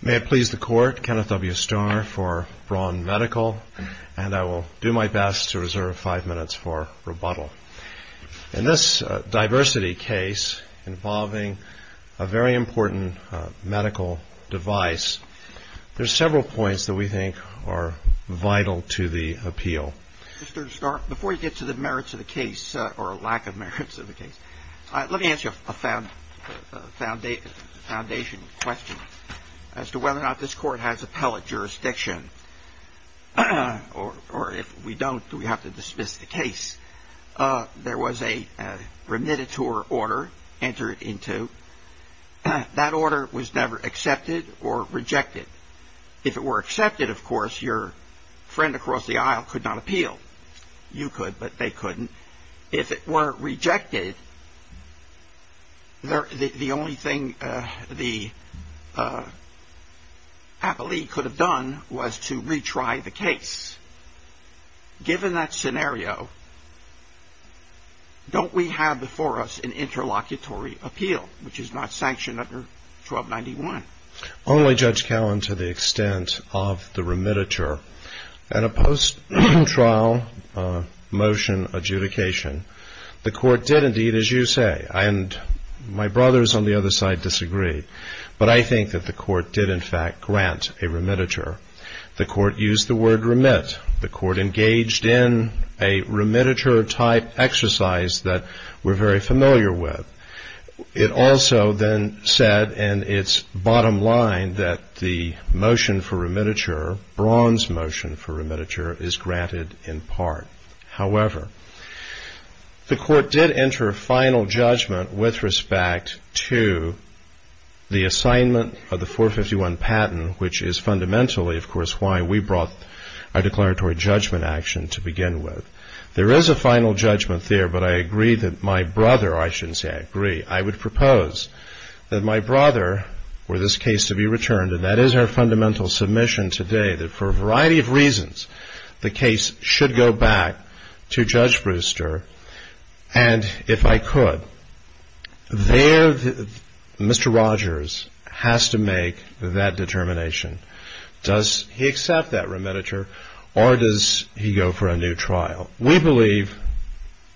May it please the court, Kenneth W. Starr for Braun Medical, and I will do my best to reserve five minutes for rebuttal. In this diversity case involving a very important medical device, there are several points that we think are vital to the appeal. Mr. Starr, before we get to the merits of the case, or lack of merits of the case, let me ask you a foundation question. As to whether or not this court has appellate jurisdiction, or if we don't, do we have to dismiss the case? There was a remittiture order entered into. That order was never accepted or rejected. If it were accepted, of course, your friend across the aisle could not appeal. You could, but they couldn't. If it were rejected, the only thing the appellee could have done was to retry the case. Given that scenario, don't we have before us an interlocutory appeal, which is not sanctioned under 1291? Only, Judge Cowen, to the extent of the remittiture. At a post-trial motion adjudication, the court did indeed, as you say, and my brothers on the other side disagreed, but I think that the court did in fact grant a remittiture. The court used the word remit. The court engaged in a remittiture-type exercise that we're very familiar with. It also then said in its bottom line that the motion for remittiture, bronze motion for remittiture, is granted in part. However, the court did enter a final judgment with respect to the assignment of the 451 patent, which is fundamentally, of course, why we brought our declaratory judgment action to begin with. There is a final judgment there, but I agree that my brother, I shouldn't say I agree, I would propose that my brother were this case to be returned, and that is our fundamental submission today, that for a variety of reasons the case should go back to Judge Brewster, and if I could, there Mr. Rogers has to make that determination. Does he accept that remittiture, or does he go for a new trial? We believe,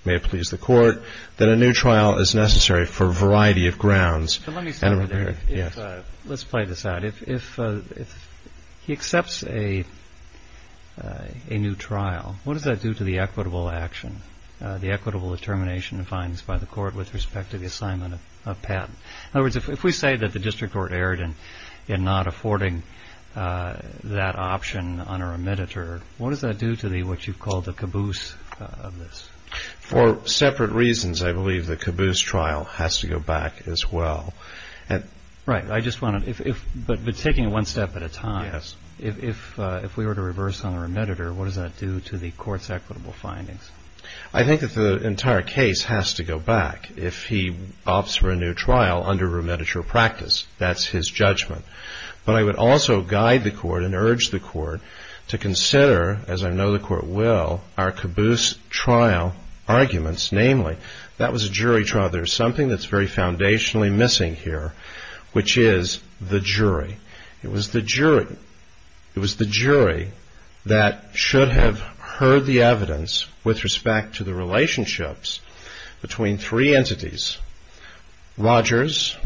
may it please the court, that a new trial is necessary for a variety of grounds. Let's play this out. If he accepts a new trial, what does that do to the equitable action, the equitable determination defined by the court with respect to the assignment of patent? In other words, if we say that the district were erred in not affording that option on a remittiture, what does that do to what you've called the caboose of this? For separate reasons, I believe the caboose trial has to go back as well. Right. But taking it one step at a time, if we were to reverse on a remittiture, what does that do to the court's equitable findings? I think that the entire case has to go back. If he opts for a new trial under remittiture practice, that's his judgment. But I would also guide the court and urge the court to consider, as I know the court will, our caboose trial arguments, namely, that was a jury trial. There's something that's very foundationally missing here, which is the jury. It was the jury. It was the jury that should have heard the evidence with respect to the relationships between three entities, Rogers,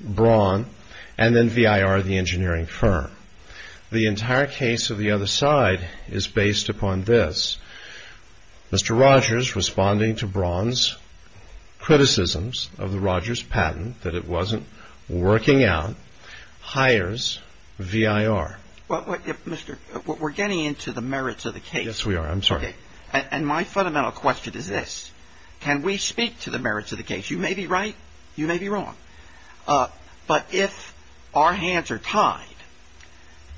Braun, and then V.I.R., the engineering firm. The entire case of the other side is based upon this. Mr. Rogers, responding to Braun's criticisms of Rogers' patent, that it wasn't working out, hires V.I.R. Well, Mr., we're getting into the merits of the case. Yes, we are. I'm sorry. Okay. And my fundamental question is this. Can we speak to the merits of the case? You may be right. You may be wrong. But if our hands are tied,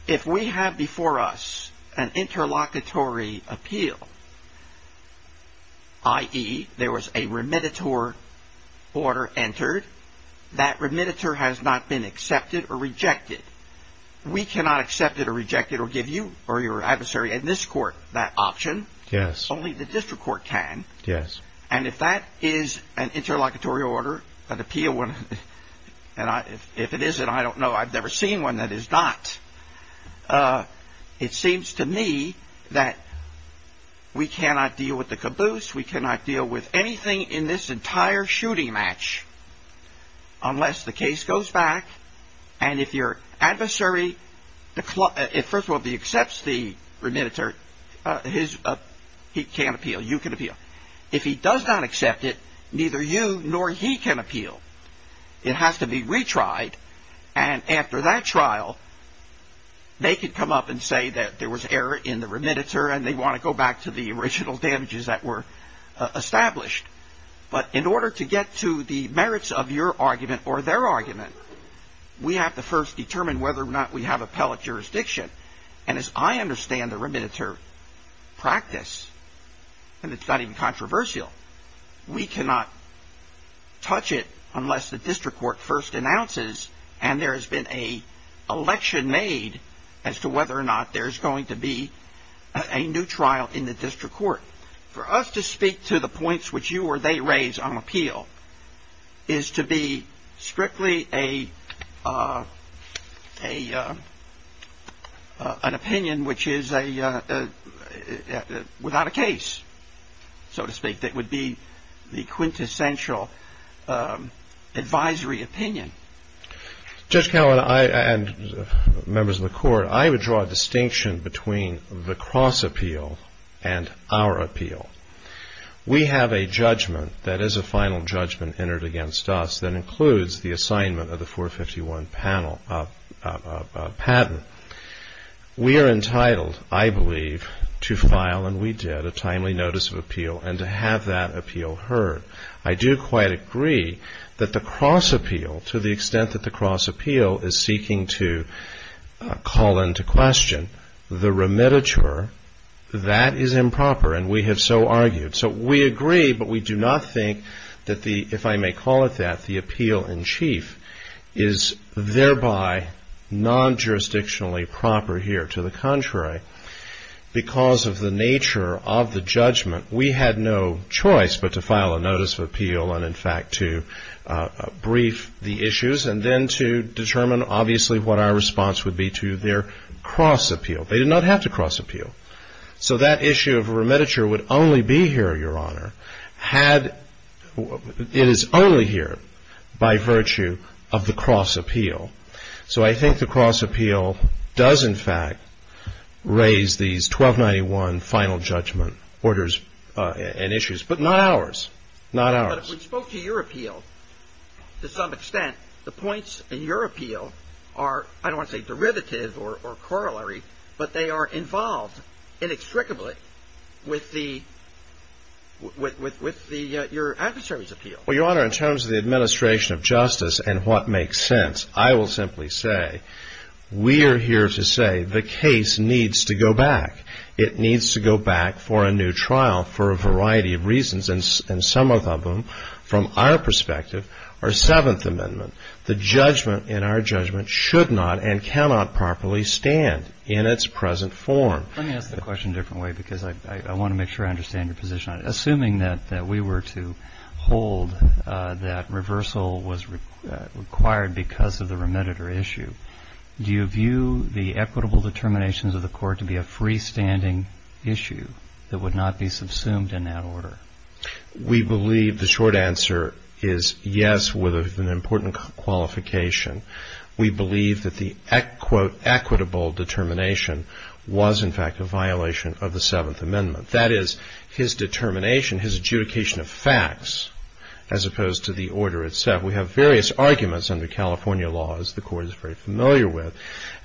if we have before us an interlocutory appeal, i.e., there was a remittiture order entered, that remittiture has not been accepted or rejected. We cannot accept it or reject it or give you or your adversary in this court that option. Yes. Only the district court can. Yes. And if that is an interlocutory order, an appeal one, and if it isn't, I don't know. I've never seen one that is not. It seems to me that we cannot deal with the caboose. We cannot deal with anything in this entire shooting match unless the case goes back And if your adversary, first of all, accepts the remittiture, he can appeal. You can appeal. If he does not accept it, neither you nor he can appeal. It has to be retried. And after that trial, they can come up and say that there was error in the remittiture and they want to go back to the original damages that were established. But in order to get to the merits of your argument or their argument, we have to first determine whether or not we have appellate jurisdiction. And as I understand the remittiture practice, and it's not even controversial, we cannot touch it unless the district court first announces and there has been an election made as to whether or not there's going to be a new trial in the district court. For us to speak to the points which you or they raise on appeal is to be strictly an opinion which is without a case, so to speak, that would be the quintessential advisory opinion. Judge Callan and members of the court, I would draw a distinction between the cross appeal and our appeal. We have a judgment that is a final judgment entered against us that includes the assignment of the 451 patent. We are entitled, I believe, to file, and we did, a timely notice of appeal and to have that appeal heard. I do quite agree that the cross appeal, to the extent that the cross appeal is seeking to call into question the remittiture, that is improper, and we have so argued. So we agree, but we do not think that the, if I may call it that, the appeal in chief is thereby non-jurisdictionally proper here. To the contrary, because of the nature of the judgment, we had no choice but to file a notice of appeal and, in fact, to brief the issues and then to determine, obviously, what our response would be to their cross appeal. They did not have to cross appeal. So that issue of remittiture would only be here, Your Honor, had, it is only here by virtue of the cross appeal. So I think the cross appeal does, in fact, raise these 1291 final judgment orders and issues, but not ours. Not ours. But if we spoke to your appeal, to some extent, the points in your appeal are, I don't want to say derivative or corollary, but they are involved inextricably with the, with your adversary's appeal. Well, Your Honor, in terms of the administration of justice and what makes sense, I will simply say we are here to say the case needs to go back. It needs to go back for a new trial for a variety of reasons, and some of them, from our perspective, are Seventh Amendment. The judgment in our judgment should not and cannot properly stand in its present form. Let me ask the question a different way because I want to make sure I understand your position. Assuming that we were to hold that reversal was required because of the remittiture issue, do you view the equitable determinations of the court to be a freestanding issue that would not be subsumed in that order? We believe the short answer is yes with an important qualification. We believe that the, quote, equitable determination was, in fact, a violation of the Seventh Amendment. That is, his determination, his adjudication of facts as opposed to the order itself. We have various arguments under California law, as the court is very familiar with,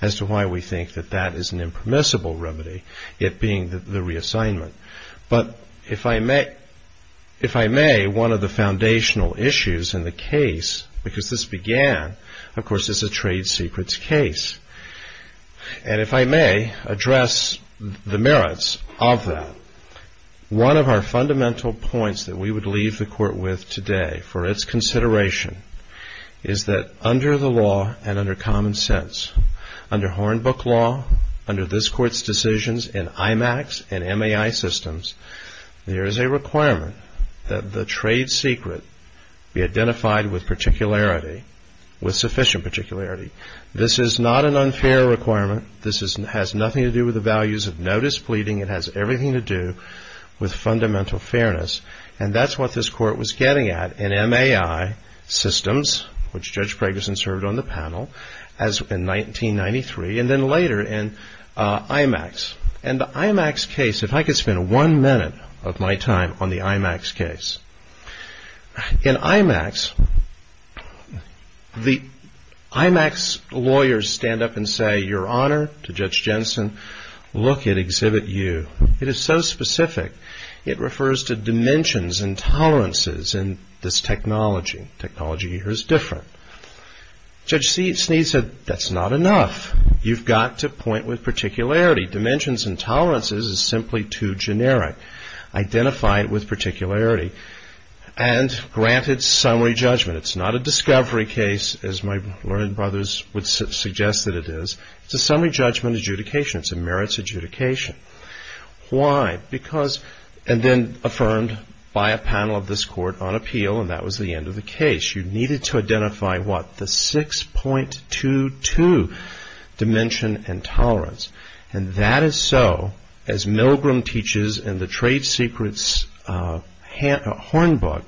as to why we think that that is an impermissible remedy, it being the reassignment. But if I may, one of the foundational issues in the case, because this began, of course, as a trade secrets case, and if I may address the merits of that, one of our fundamental points that we would leave the court with today for its consideration is that under the law and under common sense, under Hornbook law, under this court's decisions in IMAX and MAI systems, there is a requirement that the trade secret be identified with particularity, with sufficient particularity. This is not an unfair requirement. This has nothing to do with the values of notice pleading. It has everything to do with fundamental fairness. And that's what this court was getting at in MAI systems, which Judge Gregerson served on the panel, as in 1993, and then later in IMAX. And the IMAX case, if I could spend one minute of my time on the IMAX case. In IMAX, the IMAX lawyers stand up and say, Your Honor, to Judge Jensen, look at Exhibit U. It is so specific. It refers to dimensions and tolerances, and that's technology. Technology here is different. Judge Snead said, That's not enough. You've got to point with particularity. Dimensions and tolerances is simply too generic. Identify it with particularity. And grant it summary judgment. It's not a discovery case, as my brothers would suggest that it is. It's a summary judgment adjudication. It's a merits adjudication. Why? Because, and then affirmed by a panel of this court on appeal, and that was the end of the case. You needed to identify what? The 6.22 dimension and tolerance. And that is so, as Milgram teaches in the trade secrets horn book,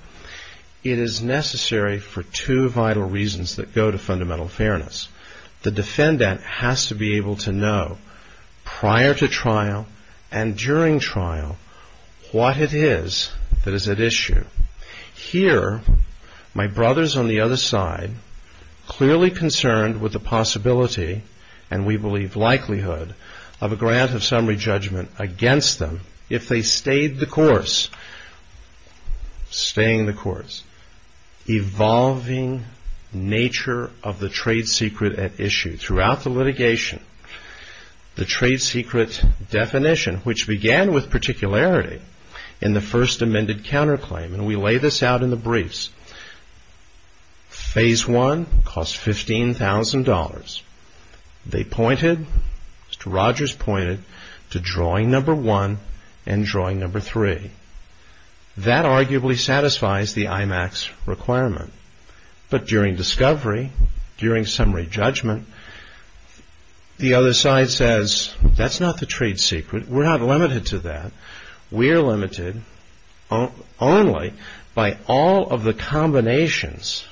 it is necessary for two vital reasons that go to fundamental fairness. The defendant has to be able to know prior to trial and during trial what it is that is at issue. Here, my brothers on the other side, clearly concerned with the possibility, and we believe likelihood, of a grant of summary judgment against them if they stayed the course. Staying the course. Evolving nature of the trade secret at issue. And so, as we see throughout the litigation, the trade secret definition, which began with particularity in the first amended counterclaim, and we lay this out in the briefs, phase one costs $15,000. They pointed, Mr. Rogers pointed to drawing number one and drawing number three. That arguably satisfies the IMAX requirement. But during discovery, during summary judgment, the other side says, that's not the trade secret. We're not limited to that. We're limited only by all of the combinations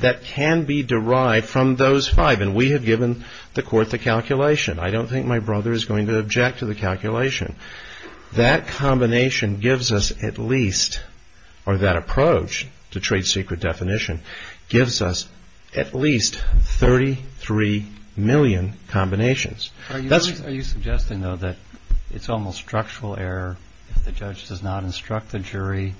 that can be derived from those five. And we have given the court the calculation. I don't think my brother is going to object to the calculation. That combination gives us at least, or that approach to trade secret definition, gives us at least 33 million combinations. Are you suggesting, though, that it's almost structural error if the judge does not instruct the jury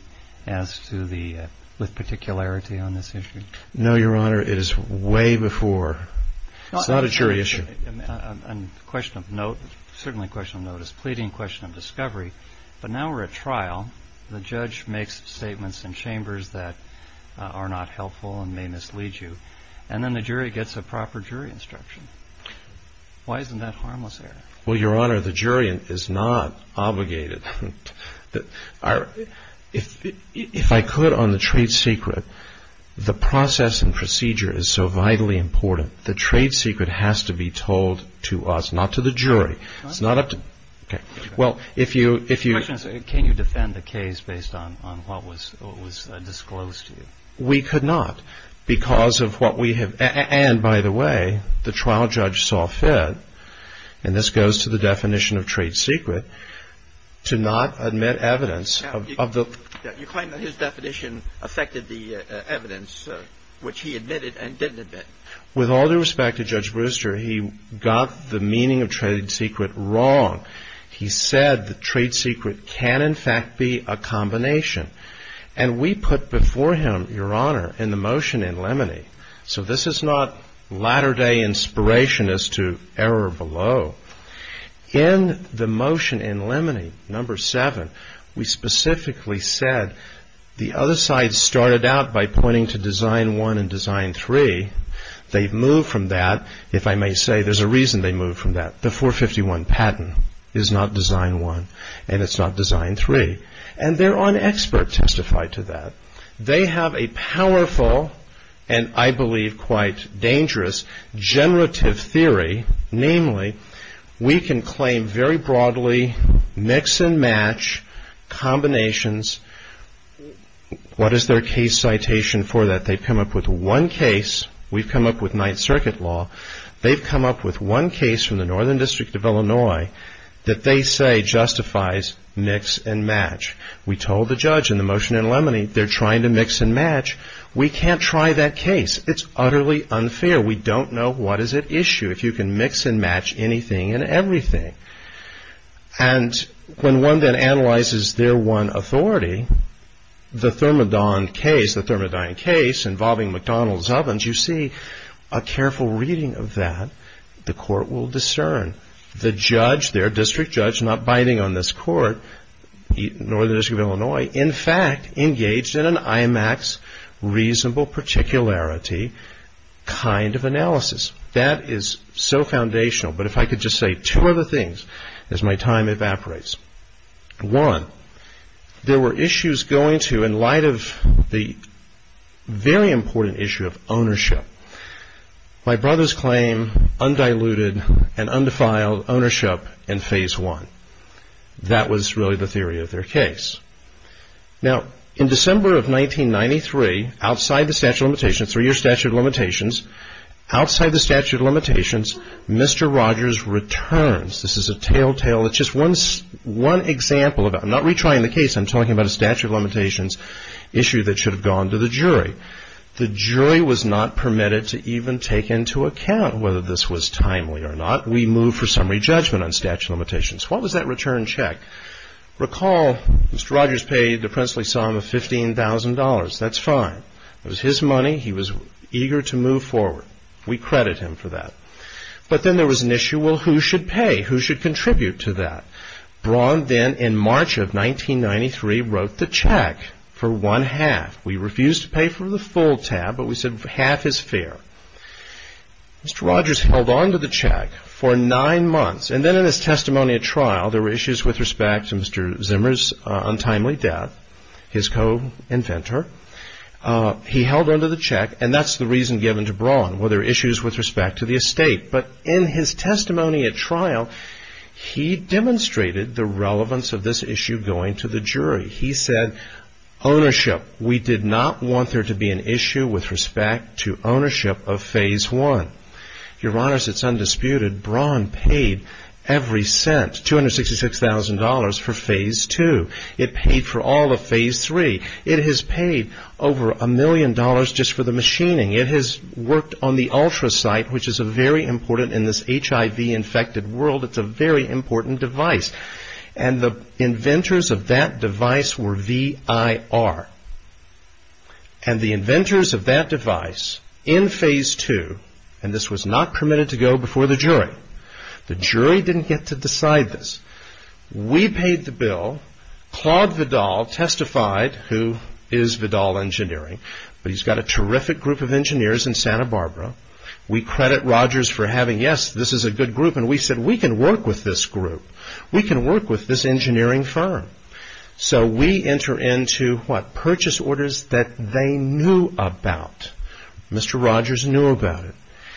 as to the, with particularity on this issue? No, Your Honor, it is way before. It's not a jury issue. A question of note, certainly a question of note, is a pleading question of discovery. But now we're at trial. The judge makes statements in chambers that are not helpful and may mislead you. And then the jury gets a proper jury instruction. Why isn't that harmless there? Well, Your Honor, the jury is not obligated. If I could, on the trade secret, the process and procedure is so vitally important. The trade secret has to be told to us, not to the jury. It's not up to... Well, if you... Can you defend the case based on what was disclosed to you? We could not because of what we have... And, by the way, the trial judge saw fit, and this goes to the definition of trade secret, to not admit evidence of the... You claim that his definition affected the evidence which he admitted and didn't admit. With all due respect to Judge Brewster, he got the meaning of trade secret wrong. He said the trade secret can, in fact, be a combination. And we put before him, Your Honor, in the motion in Lemony. So this is not latter-day inspiration as to error below. In the motion in Lemony, number 7, we specifically said the other side started out by pointing to Design 1 and Design 3. They've moved from that. If I may say, there's a reason they moved from that. The 451 patent is not Design 1, and it's not Design 3. And they're on expert testify to that. They have a powerful, and I believe quite dangerous, generative theory. Namely, we can claim very broadly mix-and-match combinations. What is their case citation for that? They've come up with one case. We've come up with Ninth Circuit law. They've come up with one case from the Northern District of Illinois that they say justifies mix-and-match. We told the judge in the motion in Lemony they're trying to mix-and-match. We can't try that case. It's utterly unfair. We don't know what is at issue if you can mix-and-match anything and everything. And when one then analyzes their one authority, the Thermadon case, the Thermadon case involving McDonald's ovens, you see a careful reading of that. The court will discern. The judge, their district judge, not biting on this court, Northern District of Illinois, in fact, engaged in an IMAX reasonable particularity kind of analysis. That is so foundational. But if I could just say two other things as my time evaporates. One, there were issues going to in light of the very important issue of ownership. My brother's claim undiluted and undefiled ownership in phase one. That was really the theory of their case. Now, in December of 1993, outside the statute of limitations, three-year statute of limitations, outside the statute of limitations, Mr. Rogers returns. This is a telltale. It's just one example. I'm not retrying the case. I'm talking about a statute of limitations issue that should have gone to the jury. The jury was not permitted to even take into account whether this was timely or not. We moved for summary judgment on statute of limitations. What was that return check? Recall, Mr. Rogers paid the princely sum of $15,000. That's fine. It was his money. He was eager to move forward. We credit him for that. But then there was an issue. Well, who should pay? Who should contribute to that? Braun then, in March of 1993, wrote the check for one half. We refused to pay for the full tab, but we said half is fair. Mr. Rogers held on to the check for nine months. And then in his testimony at trial, there were issues with respect to Mr. Zimmer's untimely death, his co-inventor. He held on to the check, and that's the reason given to Braun, were there issues with respect to the estate. But in his testimony at trial, he demonstrated the relevance of this issue going to the jury. He said, ownership, we did not want there to be an issue with respect to ownership of Phase I. Your Honor, it's undisputed, Braun paid every cent, $266,000, for Phase II. It paid for all of Phase III. It has paid over a million dollars just for the machining. It has worked on the Ultrasight, which is very important in this HIV-infected world. It's a very important device. And the inventors of that device were VIR. And the inventors of that device in Phase II, and this was not permitted to go before the jury, the jury didn't get to decide this. We paid the bill. Claude Vidal testified, who is Vidal Engineering. He's got a terrific group of engineers in Santa Barbara. We credit Rogers for having, yes, this is a good group. And we said, we can work with this group. We can work with this engineering firm. So we enter into, what, purchase orders that they knew about. Mr. Rogers knew about it.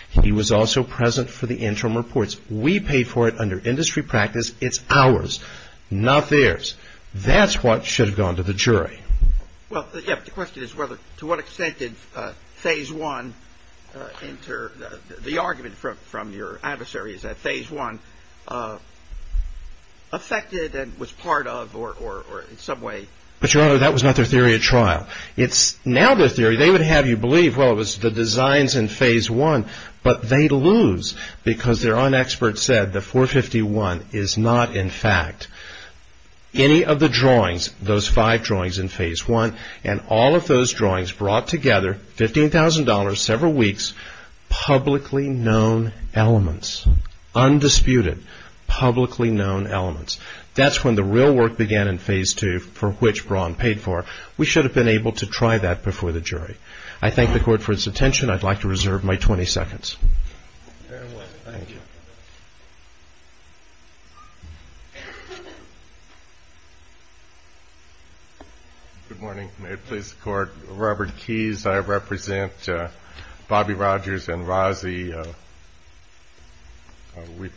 He was also present for the interim reports. We paid for it under industry practice. It's ours, not theirs. That's what should have gone to the jury. Well, yes, the question is whether, to what extent did Phase I enter the argument from your adversaries that Phase I affected and was part of or in some way. But, Your Honor, that was not their theory at trial. It's now their theory. They would have you believe, well, it was the designs in Phase I. But they lose because their own expert said that 451 is not, in fact, any of the drawings, those five drawings in Phase I, and all of those drawings brought together, $15,000, several weeks, publicly known elements. Undisputed, publicly known elements. That's when the real work began in Phase II, for which Braun paid for. We should have been able to try that before the jury. I thank the Court for its attention. I'd like to reserve my 20 seconds. Very well. Thank you. Good morning. May it please the Court. Robert Keyes, I represent Bobby Rogers and Rozzi. We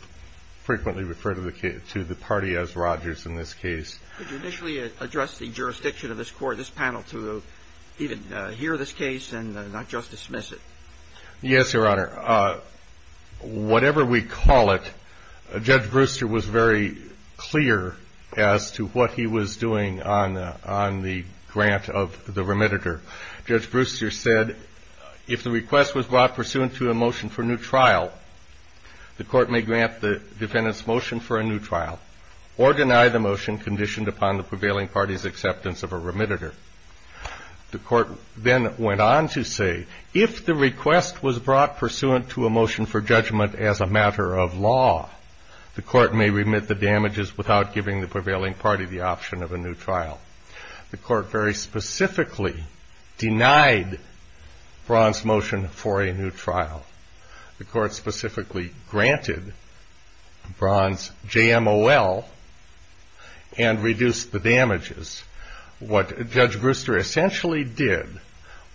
frequently refer to the party as Rogers in this case. Could you initially address the jurisdiction of this panel to even hear this case and not just dismiss it? Yes, Your Honor. Whatever we call it, Judge Brewster was very clear as to what he was doing on the grant of the remediator. Judge Brewster said, if the request was brought pursuant to a motion for new trial, the Court may grant the defendant's motion for a new trial, or deny the motion conditioned upon the prevailing party's acceptance of a remediator. The Court then went on to say, if the request was brought pursuant to a motion for judgment as a matter of law, the Court may remit the damages without giving the prevailing party the option of a new trial. The Court very specifically denied Braun's motion for a new trial. The Court specifically granted Braun's JMOL and reduced the damages. What Judge Brewster essentially did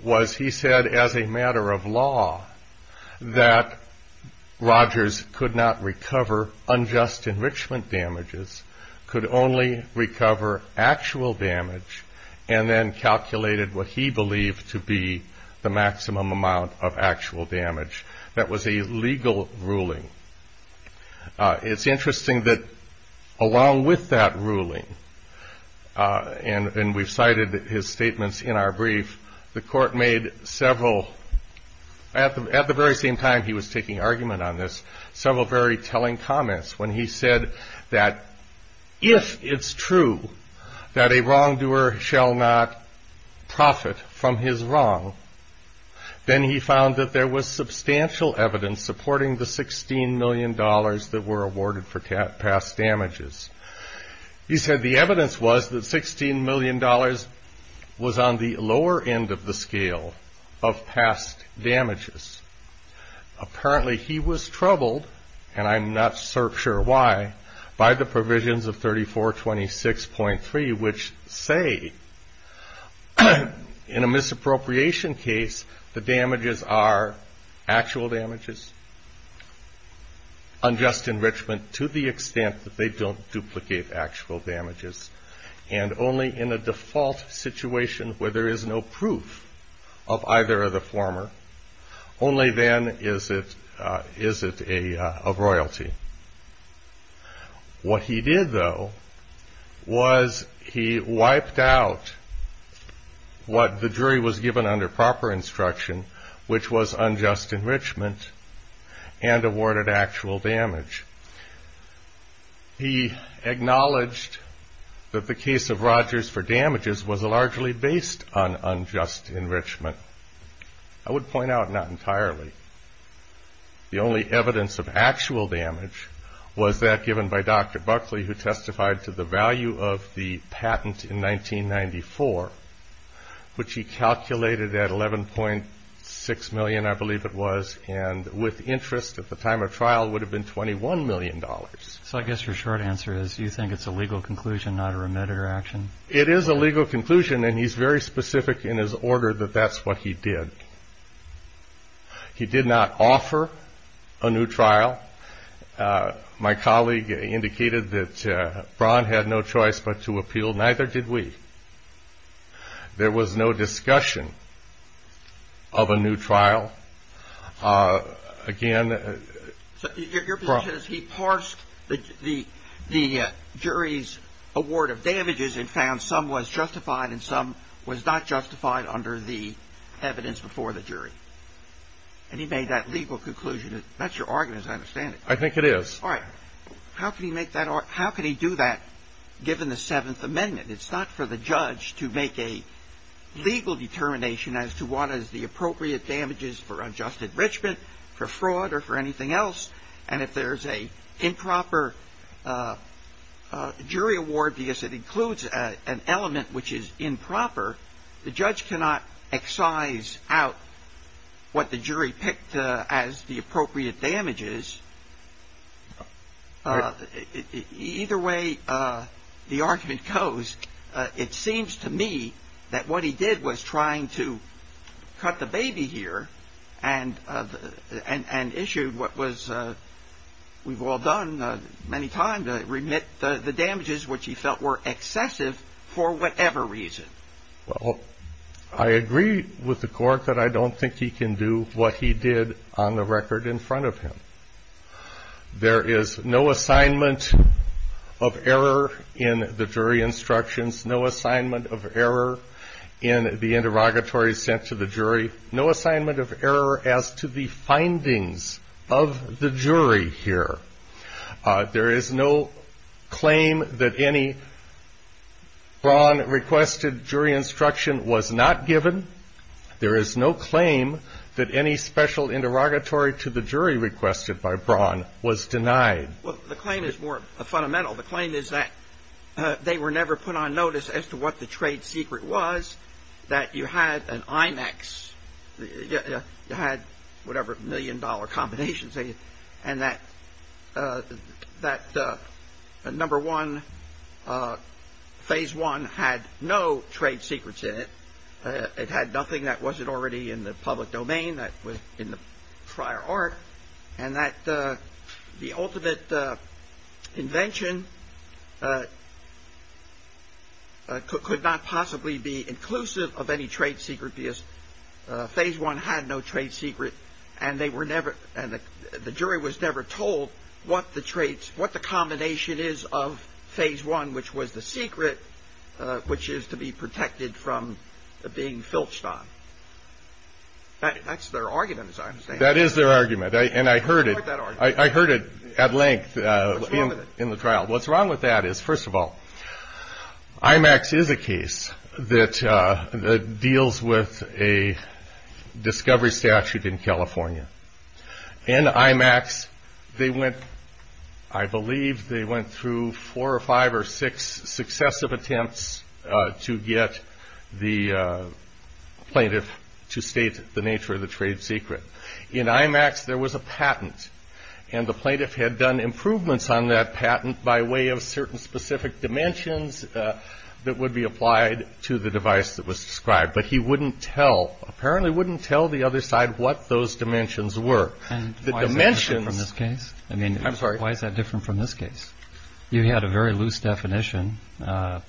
was he said, as a matter of law, that Rogers could not recover unjust enrichment damages, could only recover actual damage, and then calculated what he believed to be the maximum amount of actual damage. That was a legal ruling. It's interesting that along with that ruling, and we've cited his statements in our brief, the Court made several, at the very same time he was taking argument on this, several very telling comments when he said that if it's true that a wrongdoer shall not profit from his wrong, then he found that there was substantial evidence supporting the $16 million that were awarded for past damages. He said the evidence was that $16 million was on the lower end of the scale of past damages. Apparently he was troubled, and I'm not sure why, by the provisions of 3426.3, which say, in a misappropriation case, the damages are actual damages, unjust enrichment to the extent that they don't duplicate actual damages, and only in a default situation where there is no proof of either of the former, only then is it of royalty. What he did, though, was he wiped out what the jury was given under proper instruction, which was unjust enrichment, and awarded actual damage. He acknowledged that the case of Rogers for damages was largely based on unjust enrichment. I would point out not entirely. The only evidence of actual damage was that given by Dr. Buckley, who testified to the value of the patent in 1994, which he calculated at $11.6 million, I believe it was, and with interest at the time of trial would have been $21 million. So I guess your short answer is you think it's a legal conclusion, not a remediator action? It is a legal conclusion, and he's very specific in his order that that's what he did. He did not offer a new trial. My colleague indicated that Braun had no choice but to appeal. Neither did we. There was no discussion of a new trial. Again, Braun. Your position is he parsed the jury's award of damages and found some was justified and some was not justified under the evidence before the jury, and he made that legal conclusion. That's your argument, as I understand it. I think it is. All right. How can he do that given the Seventh Amendment? It's not for the judge to make a legal determination as to what is the appropriate damages for unjust enrichment, for fraud, or for anything else. And if there's an improper jury award because it includes an element which is improper, the judge cannot excise out what the jury picked as the appropriate damages. Either way the argument goes, it seems to me that what he did was trying to cut the baby here and issued what was, we've all done many times, remit the damages which he felt were excessive for whatever reason. Well, I agree with the court that I don't think he can do what he did on the record in front of him. There is no assignment of error in the jury instructions, no assignment of error in the interrogatory sent to the jury, no assignment of error as to the findings of the jury here. There is no claim that any Braun requested jury instruction was not given. There is no claim that any special interrogatory to the jury requested by Braun was denied. Well, the claim is more fundamental. The claim is that they were never put on notice as to what the trade secret was, that you had an IMAX, you had whatever million dollar combinations, and that number one, phase one had no trade secrets in it. It had nothing that wasn't already in the public domain, that was in the prior art, and that the ultimate invention could not possibly be inclusive of any trade secret, because phase one had no trade secret, and the jury was never told what the combination is of phase one, which was the secret, which is to be protected from being filched on. That's their argument, is what I'm saying. That is their argument, and I heard it at length in the trial. What's wrong with that is, first of all, IMAX is a case that deals with a discovery statute in California. In IMAX, they went, I believe they went through four or five or six successive attempts to get the plaintiff to state the nature of the trade secret. In IMAX, there was a patent, and the plaintiff had done improvements on that patent by way of certain specific dimensions that would be applied to the device that was described, but he wouldn't tell, apparently wouldn't tell the other side what those dimensions were. Why is that different from this case? You had a very loose definition. Go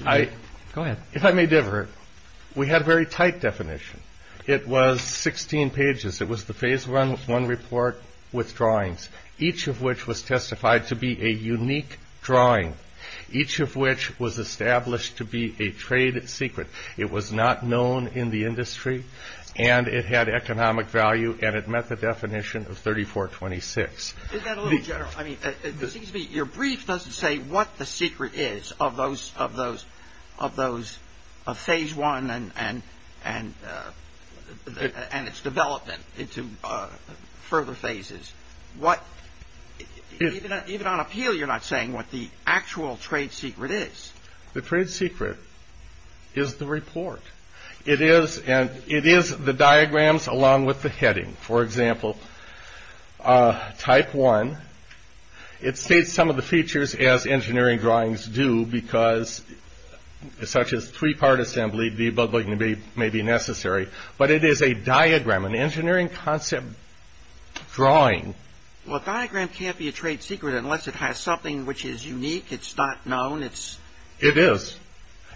ahead. If I may differ, we had a very tight definition. It was 16 pages. It was the phase one report with drawings, each of which was testified to be a unique drawing, each of which was established to be a trade secret. It was not known in the industry, and it had economic value, and it met the definition of 3426. Is that a little general? I mean, it seems to me your brief doesn't say what the secret is of those phase one and its development into further phases. Even on appeal, you're not saying what the actual trade secret is. The trade secret is the report. It is the diagrams along with the heading. For example, type one, it states some of the features, as engineering drawings do, such as three-part assembly, debuggling may be necessary, but it is a diagram, an engineering concept drawing. Well, a diagram can't be a trade secret unless it has something which is unique. It's not known. It is.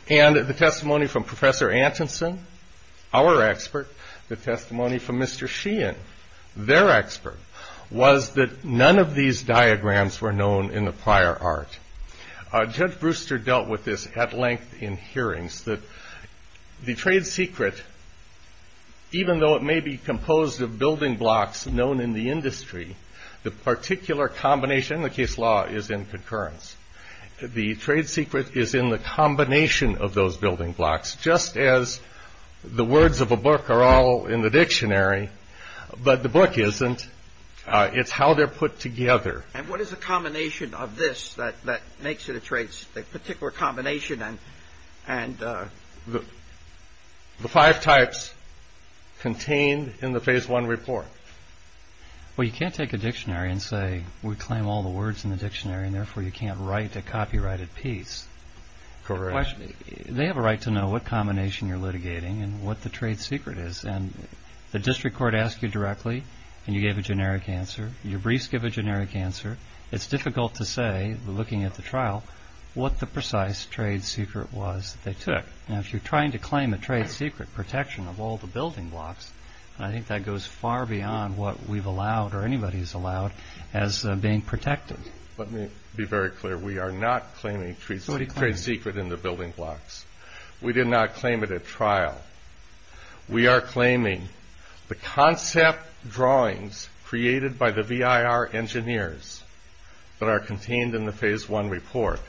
And the testimony from Professor Atkinson, our expert, the testimony from Mr. Sheehan, their expert, was that none of these diagrams were known in the prior art. Judge Brewster dealt with this at length in hearings, that the trade secret, even though it may be composed of building blocks known in the industry, the particular combination in the case law is in concurrence. The trade secret is in the combination of those building blocks, just as the words of a book are all in the dictionary, but the book isn't. It's how they're put together. And what is the combination of this that makes it a trade secret, a particular combination? The five types contained in the phase one report. Well, you can't take a dictionary and say we claim all the words in the dictionary, and therefore you can't write a copyrighted piece. Correct. They have a right to know what combination you're litigating and what the trade secret is. And the district court asked you directly, and you gave a generic answer. Your briefs give a generic answer. It's difficult to say, looking at the trial, what the precise trade secret was that they took. Now, if you're trying to claim a trade secret protection of all the building blocks, I think that goes far beyond what we've allowed or anybody's allowed as being protective. Let me be very clear. We are not claiming trade secret in the building blocks. We did not claim it at trial. We are claiming the concept drawings created by the VIR engineers that are contained in the phase one report.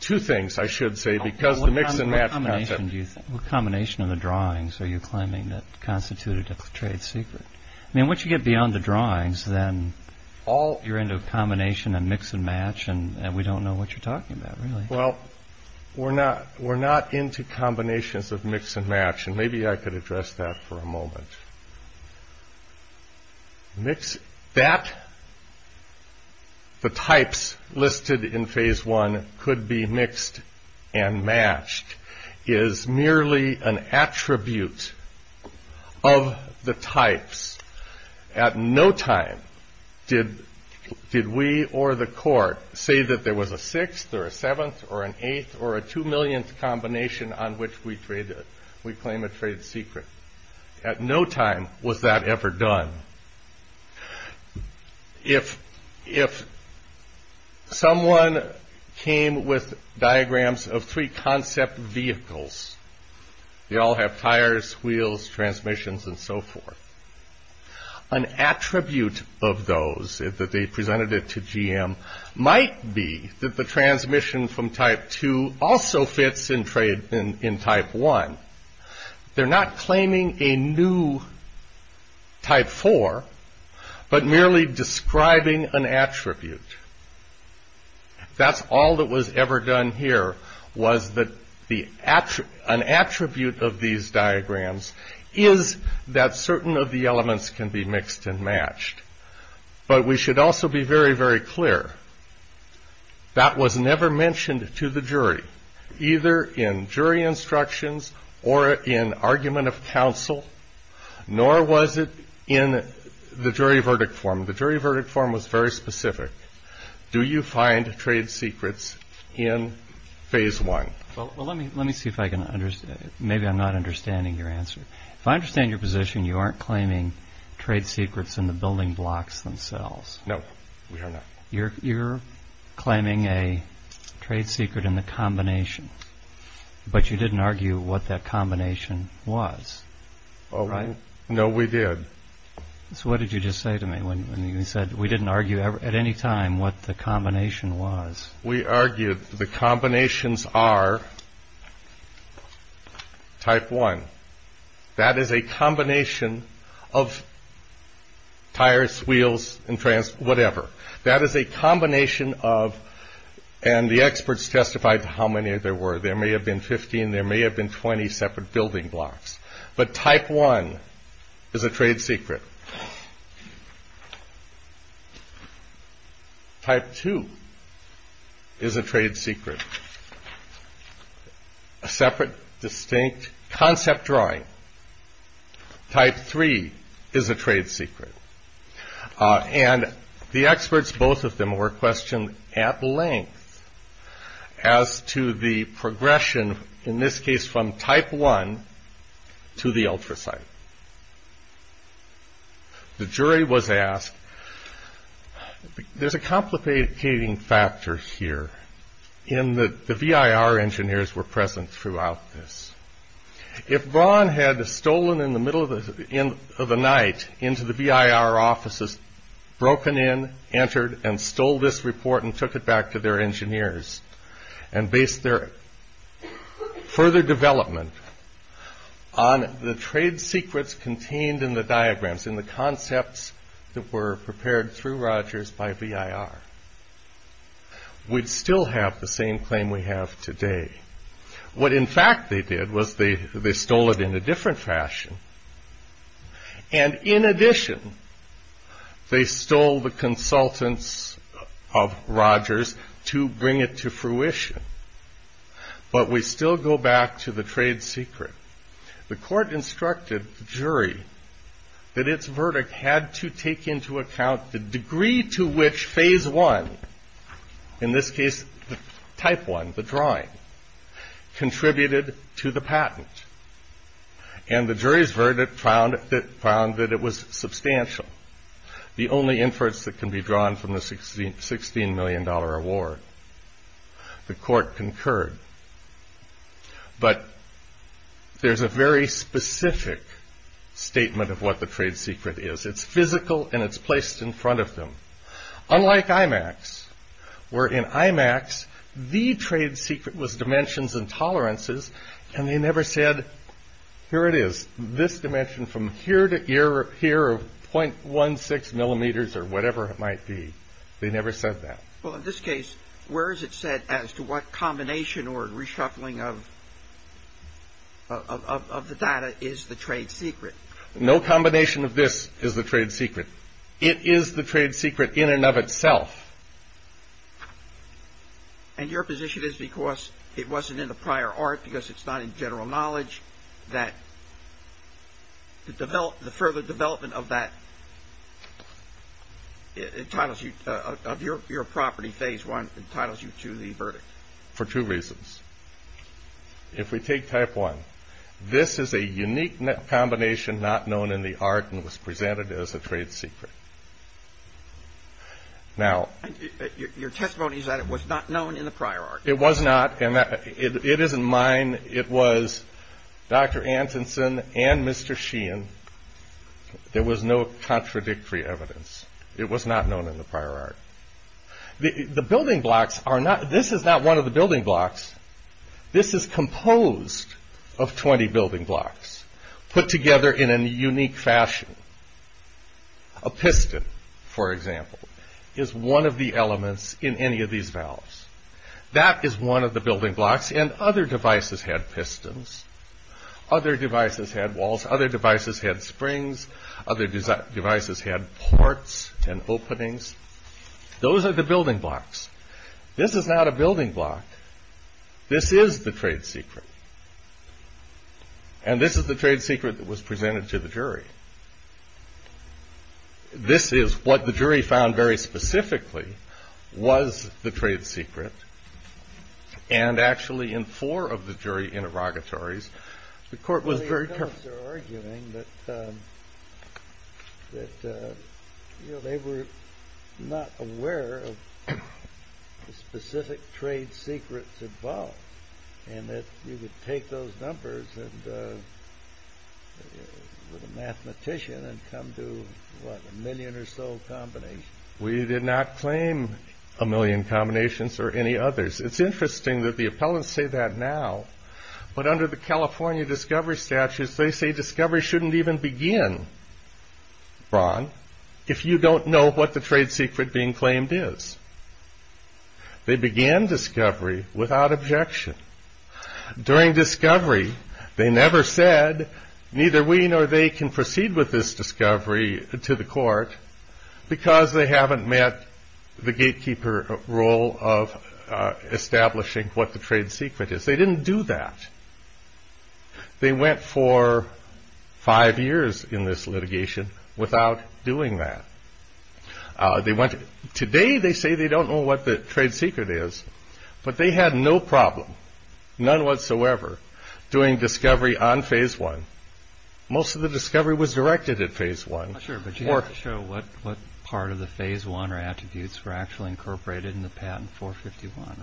Two things I should say, because the mix and match method. What combination of the drawings are you claiming that constituted a trade secret? I mean, once you get beyond the drawings, then all you're into is combination and mix and match, and we don't know what you're talking about, really. Well, we're not into combinations of mix and match, and maybe I could address that for a moment. That the types listed in phase one could be mixed and matched is merely an attribute of the types. At no time did we or the court say that there was a sixth or a seventh or an eighth or a two millionth combination on which we claim a trade secret. At no time was that ever done. If someone came with diagrams of three concept vehicles, they all have tires, wheels, transmissions, and so forth, an attribute of those is that they presented it to GM might be that the transmission from type two also fits in type one. They're not claiming a new type four, but merely describing an attribute. That's all that was ever done here was that an attribute of these diagrams is that certain of the elements can be mixed and matched. But we should also be very, very clear, that was never mentioned to the jury, either in jury instructions or in argument of counsel, nor was it in the jury verdict form. The jury verdict form was very specific. Do you find trade secrets in phase one? Well, let me see if I can understand it. Maybe I'm not understanding your answer. If I understand your position, you aren't claiming trade secrets in the building blocks themselves. No, we are not. You're claiming a trade secret in the combination, but you didn't argue what that combination was, right? No, we did. So what did you just say to me when you said we didn't argue at any time what the combination was? We argued the combinations are type one. That is a combination of tires, wheels, and whatever. That is a combination of, and the experts testified how many there were. There may have been 15, there may have been 20 separate building blocks. But type one is a trade secret. Type two is a trade secret. A separate, distinct concept drawing. Type three is a trade secret. And the experts, both of them, were questioned at length as to the progression, in this case, from type one to the ultrasound. The jury was asked, there's a complicating factor here in that the VIR engineers were present throughout this. If Vaughn had stolen in the middle of the night into the VIR offices, broken in, entered, and stole this report and took it back to their engineers, and based their further development on the trade secrets contained in the diagrams, in the concepts that were prepared through Rogers by VIR, we'd still have the same claim we have today. What in fact they did was they stole it in a different fashion. And in addition, they stole the consultants of Rogers to bring it to fruition. But we still go back to the trade secret. The court instructed the jury that its verdict had to take into account the degree to which phase one, in this case, type one, the drawing, contributed to the patent. And the jury's verdict found that it was substantial, the only inference that can be drawn from the $16 million award. The court concurred. But there's a very specific statement of what the trade secret is. It's physical, and it's placed in front of them. Unlike IMAX, where in IMAX, the trade secret was dimensions and tolerances, and they never said, here it is, this dimension from here to here of .16 millimeters or whatever it might be. They never said that. Well, in this case, where is it set as to what combination or reshuffling of the data is the trade secret? No combination of this is the trade secret. It is the trade secret in and of itself. And your position is because it wasn't in the prior art, because it's not in general knowledge, that the further development of that entitles you, of your property, phase one, entitles you to the verdict. For two reasons. If we take type one, this is a unique combination not known in the art and was presented as a trade secret. Your testimony is that it was not known in the prior art. It was not. And it isn't mine. It was Dr. Antonsen and Mr. Sheehan. There was no contradictory evidence. It was not known in the prior art. The building blocks are not, this is not one of the building blocks. This is composed of 20 building blocks put together in a unique fashion. A piston, for example, is one of the elements in any of these valves. That is one of the building blocks. And other devices had pistons. Other devices had walls. Other devices had springs. Other devices had ports and openings. Those are the building blocks. This is not a building block. This is the trade secret. And this is the trade secret that was presented to the jury. This is what the jury found very specifically was the trade secret. And actually in four of the jury interrogatories, the court was very clear. You guys are arguing that they were not aware of the specific trade secrets involved. And that you could take those numbers and a mathematician and come to, what, a million or so combinations. We did not claim a million combinations or any others. It's interesting that the appellants say that now. But under the California discovery statute, they say discovery shouldn't even begin, Ron, if you don't know what the trade secret being claimed is. They began discovery without objection. During discovery, they never said, neither we nor they can proceed with this discovery to the court, because they haven't met the gatekeeper role of establishing what the trade secret is. They didn't do that. They went for five years in this litigation without doing that. Today they say they don't know what the trade secret is. But they had no problem, none whatsoever, doing discovery on phase one. Most of the discovery was directed at phase one. Sure, but you didn't show what part of the phase one or attributes were actually incorporated in the patent 451,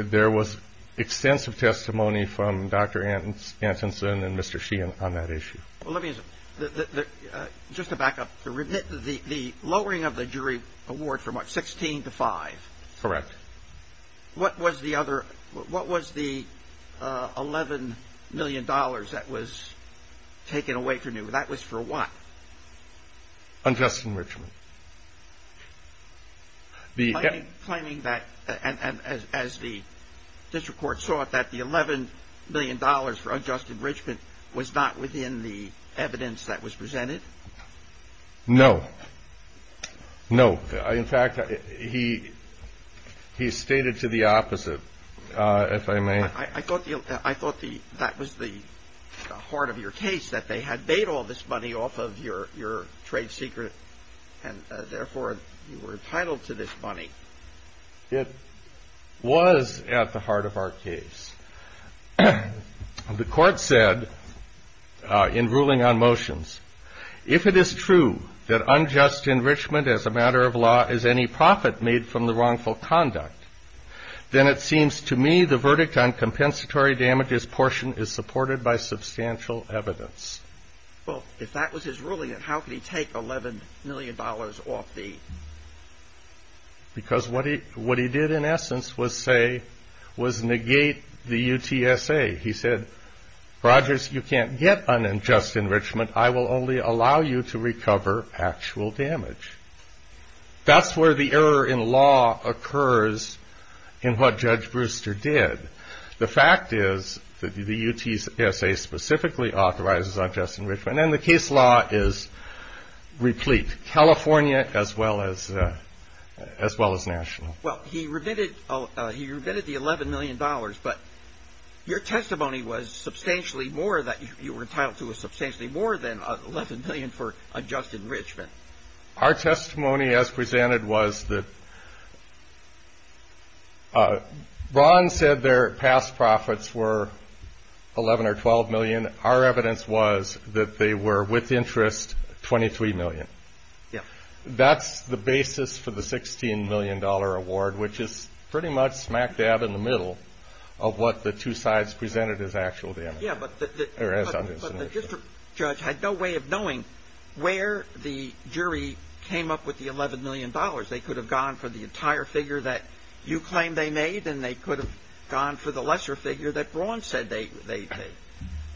right? There was extensive testimony from Dr. Atkinson and Mr. Sheehan on that issue. Well, let me just to back up, the lowering of the jury award from what, 16 to five? Correct. What was the other, what was the $11 million that was taken away from you? That was for what? On Justin Richman. Are you claiming that, as the district court saw it, that the $11 million for Justin Richman was not within the evidence that was presented? No. No. In fact, he stated to the opposite, if I may. I thought that was the heart of your case, that they had made all this money off of your trade secret, and therefore you were entitled to this money. It was at the heart of our case. The court said in ruling on motions, if it is true that unjust enrichment as a matter of law is any profit made from the wrongful conduct, then it seems to me the verdict on compensatory damages portion is supported by substantial evidence. Well, if that was his ruling, then how could he take $11 million off the? Because what he did in essence was say, was negate the UTSA. He said, Rogers, you can't get unjust enrichment. I will only allow you to recover actual damage. That's where the error in law occurs in what Judge Brewster did. The fact is that the UTSA specifically authorizes unjust enrichment, and the case law is replete, California as well as national. Well, he remitted the $11 million, but your testimony was substantially more than that. You were entitled to substantially more than $11 million for unjust enrichment. Our testimony as presented was that Ron said their past profits were $11 or $12 million. Our evidence was that they were with interest $23 million. That's the basis for the $16 million award, which is pretty much smack dab in the middle of what the two sides presented as actual damage. Yeah, but the district judge had no way of knowing where the jury came up with the $11 million. They could have gone for the entire figure that you claim they made, and they could have gone for the lesser figure that Ron said they did.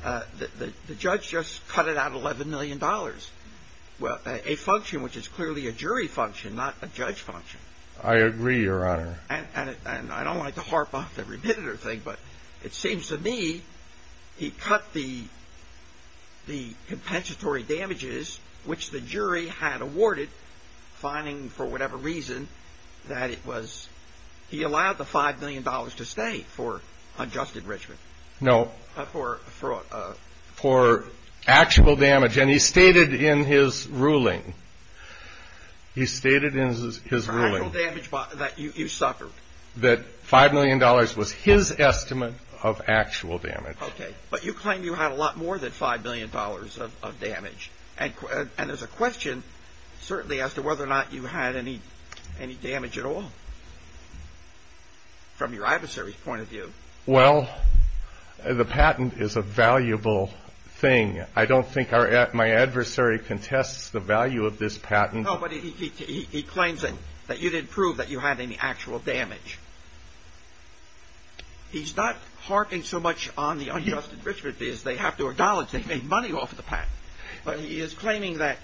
The judge just cut it out $11 million. Well, a function which is clearly a jury function, not a judge function. I agree, Your Honor. And I don't like to harp off the remitted thing, but it seems to me he cut the compensatory damages which the jury had awarded, finding for whatever reason that it was he allowed the $5 million to stay for unjust enrichment. No. For actual damage, and he stated in his ruling that $5 million was his estimate of actual damage. Okay, but you claim you had a lot more than $5 million of damage, and there's a question certainly as to whether or not you had any damage at all from your adversary's point of view. Well, the patent is a valuable thing. I don't think my adversary contests the value of this patent. No, but he claims that you didn't prove that you had any actual damage. He's not harping so much on the unjust enrichment because they have to acknowledge they made money off the patent, but he is claiming that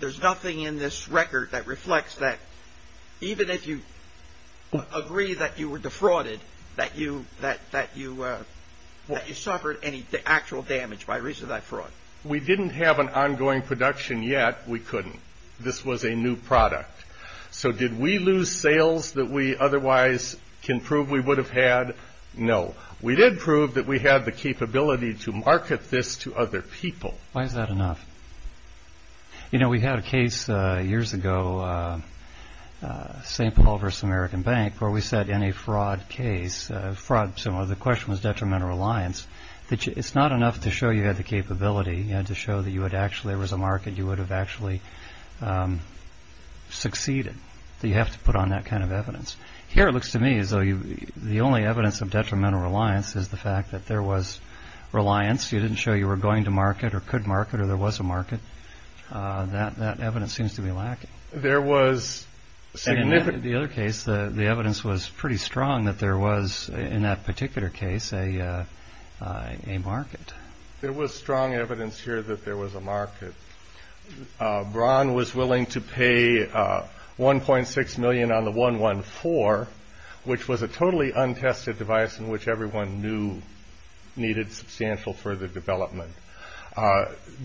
there's nothing in this record that reflects that even if you agree that you were defrauded, that you suffered any actual damage by reason of that fraud. We didn't have an ongoing production yet. We couldn't. This was a new product. So did we lose sales that we otherwise can prove we would have had? No. We did prove that we had the capability to market this to other people. Why is that enough? You know, we had a case years ago, St. Paul versus American Bank, where we said in a fraud case, the question was detrimental reliance. It's not enough to show you had the capability. You had to show that there was a market you would have actually succeeded. You have to put on that kind of evidence. Here it looks to me as though the only evidence of detrimental reliance is the fact that there was reliance. You didn't show you were going to market or could market or there was a market. That evidence seems to be lacking. In the other case, the evidence was pretty strong that there was, in that particular case, a market. There was strong evidence here that there was a market. Braun was willing to pay $1.6 million on the 114, which was a totally untested device in which everyone knew needed substantial further development.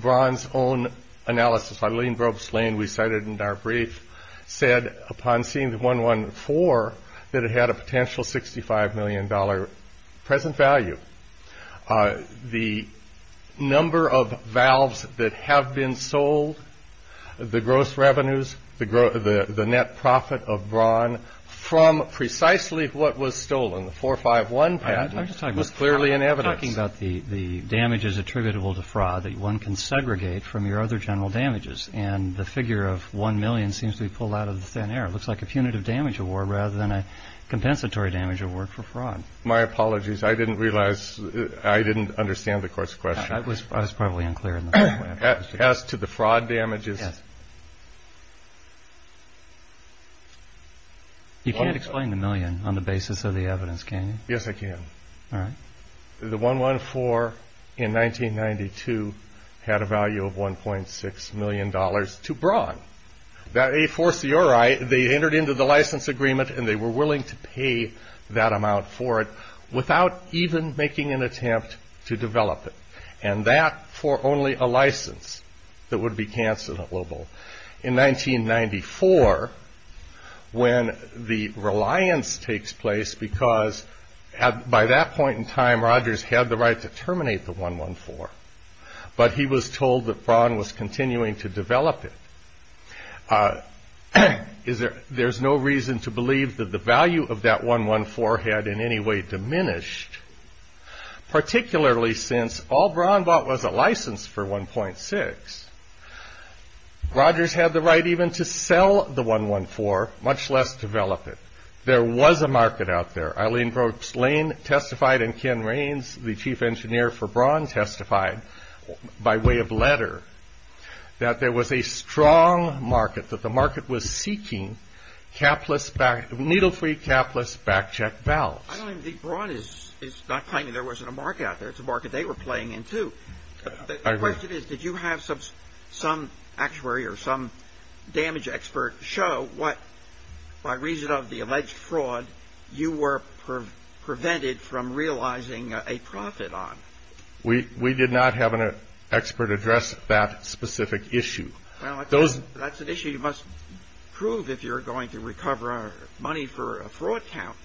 Braun's own analysis, Eileen Groves Lane, we cited in our brief, said upon seeing the 114 that it had a potential $65 million present value. The number of valves that have been sold, the gross revenues, the net profit of Braun from precisely what was stolen, the 451 patent, was clearly inevitable. I'm just talking about the damages attributable to fraud that one can segregate from your other general damages, and the figure of $1 million seems to be pulled out of thin air. It looks like a punitive damage award rather than a compensatory damage award for fraud. My apologies. I didn't realize I didn't understand the court's question. I was probably unclear. As to the fraud damages. You can't explain the million on the basis of the evidence, can you? Yes, I can. All right. The 114 in 1992 had a value of $1.6 million to Braun. That A4CRI, they entered into the license agreement and they were willing to pay that amount for it without even making an attempt to develop it. And that for only a license that would be cancelled. In 1994, when the reliance takes place because by that point in time, Rogers had the right to terminate the 114, but he was told that Braun was continuing to develop it. There's no reason to believe that the value of that 114 had in any way diminished, particularly since all Braun bought was a license for 1.6. Rogers had the right even to sell the 114, much less develop it. There was a market out there. Eileen Brooks Lane testified and Ken Raines, the chief engineer for Braun, testified by way of letter that there was a strong market, that the market was seeking needle-free, capless, back-checked balance. I don't think Braun is not claiming there wasn't a market out there. It's a market they were playing into. The question is, did you have some actuary or some damage expert show what, by reason of the alleged fraud, you were prevented from realizing a profit on? We did not have an expert address that specific issue. That's an issue you must prove if you're going to recover money for a fraud count.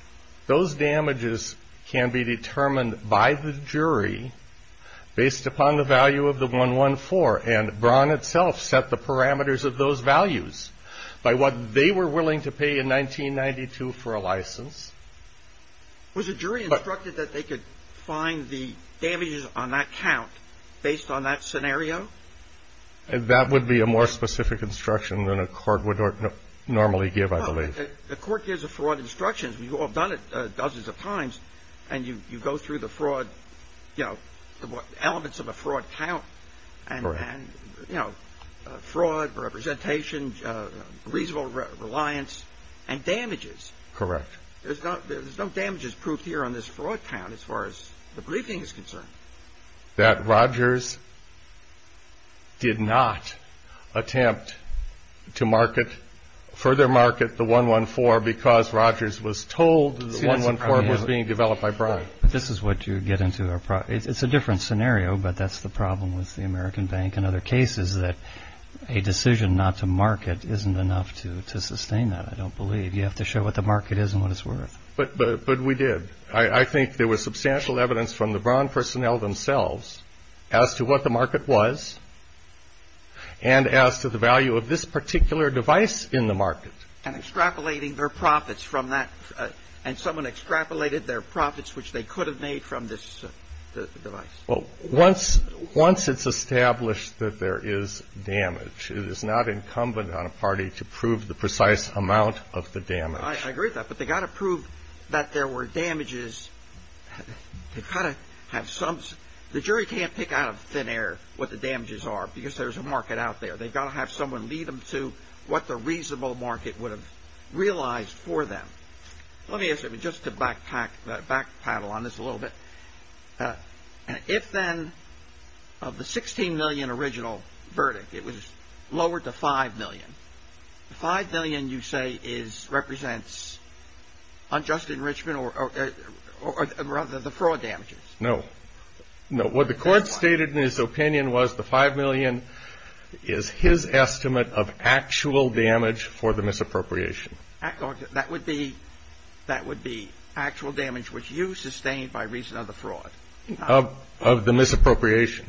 Those damages can be determined by the jury based upon the value of the 114, and Braun itself set the parameters of those values. By what they were willing to pay in 1992 for a license. Was the jury instructed that they could find the damages on that count based on that scenario? That would be a more specific instruction than a court would normally give, I believe. The court gives a fraud instruction. We've all done it dozens of times, and you go through the fraud, you know, fraud, representation, reasonable reliance, and damages. Correct. There's no damages proof here on this fraud count as far as the briefing is concerned. That Rogers did not attempt to further market the 114 because Rogers was told the 114 was being developed by Braun. This is what you get into. It's a different scenario, but that's the problem with the American bank and other cases that a decision not to market isn't enough to sustain that. I don't believe. You have to show what the market is and what it's worth. But we did. I think there was substantial evidence from the Braun personnel themselves as to what the market was and as to the value of this particular device in the market. And extrapolating their profits from that. And someone extrapolated their profits, which they could have made from this device. Well, once it's established that there is damage, it is not incumbent on a party to prove the precise amount of the damage. I agree with that, but they've got to prove that there were damages. The jury can't pick out of thin air what the damages are because there's a market out there. They've got to have someone lead them to what the reasonable market would have realized for them. Let me ask you just to back paddle on this a little bit. If then of the $16 million original verdict, it was lowered to $5 million. $5 million, you say, represents unjust enrichment or rather the fraud damages? No. What the court stated in its opinion was the $5 million is his estimate of actual damage for the misappropriation. That would be actual damage which you sustained by reason of the fraud. Of the misappropriation.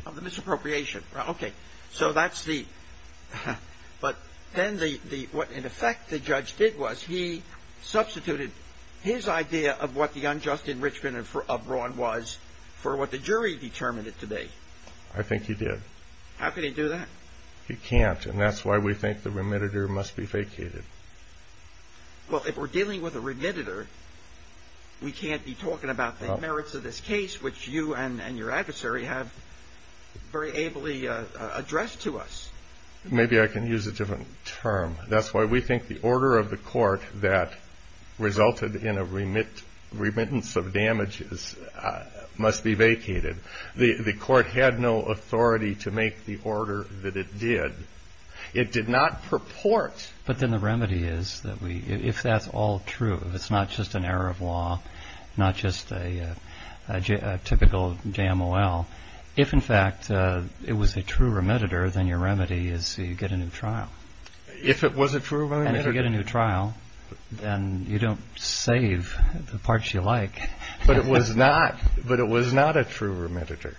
Okay. So that's the... But then what in effect the judge did was he substituted his idea of what the unjust enrichment of Ron was for what the jury determined it to be. I think he did. How could he do that? He can't, and that's why we think the remitter must be faked. Well, if we're dealing with a remitter, we can't be talking about the merits of this case which you and your adversary have very ably addressed to us. Maybe I can use a different term. That's why we think the order of the court that resulted in a remittance of damages must be vacated. The court had no authority to make the order that it did. It did not purport... But then the remedy is that if that's all true, it's not just an error of law, not just a typical JMOL. If, in fact, it was a true remitter, then your remedy is you get a new trial. If it was a true remitter... And if you get a new trial, then you don't save the parts you like. But it was not a true remitter.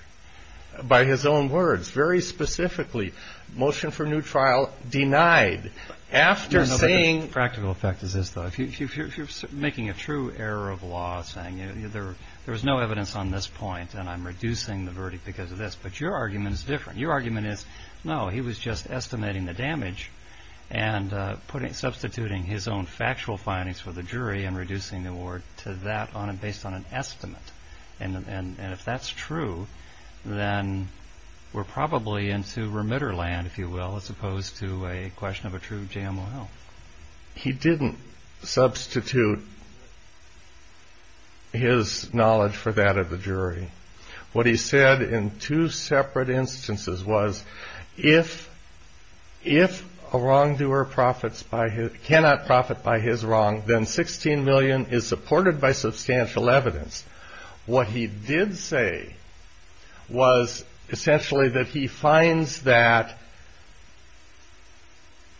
By his own words. Very specifically, motion for new trial denied. After saying... The practical fact is this, though. If you're making a true error of law, saying there's no evidence on this point, then I'm reducing the verdict because of this. But your argument is different. Your argument is, no, he was just estimating the damage and substituting his own factual findings for the jury and reducing the award to that based on an estimate. And if that's true, then we're probably into remitter land, if you will, as opposed to a question of a true JMOL. He didn't substitute his knowledge for that of the jury. What he said in two separate instances was, if a wrongdoer cannot profit by his wrong, then $16 million is supported by substantial evidence. What he did say was, essentially, that he finds that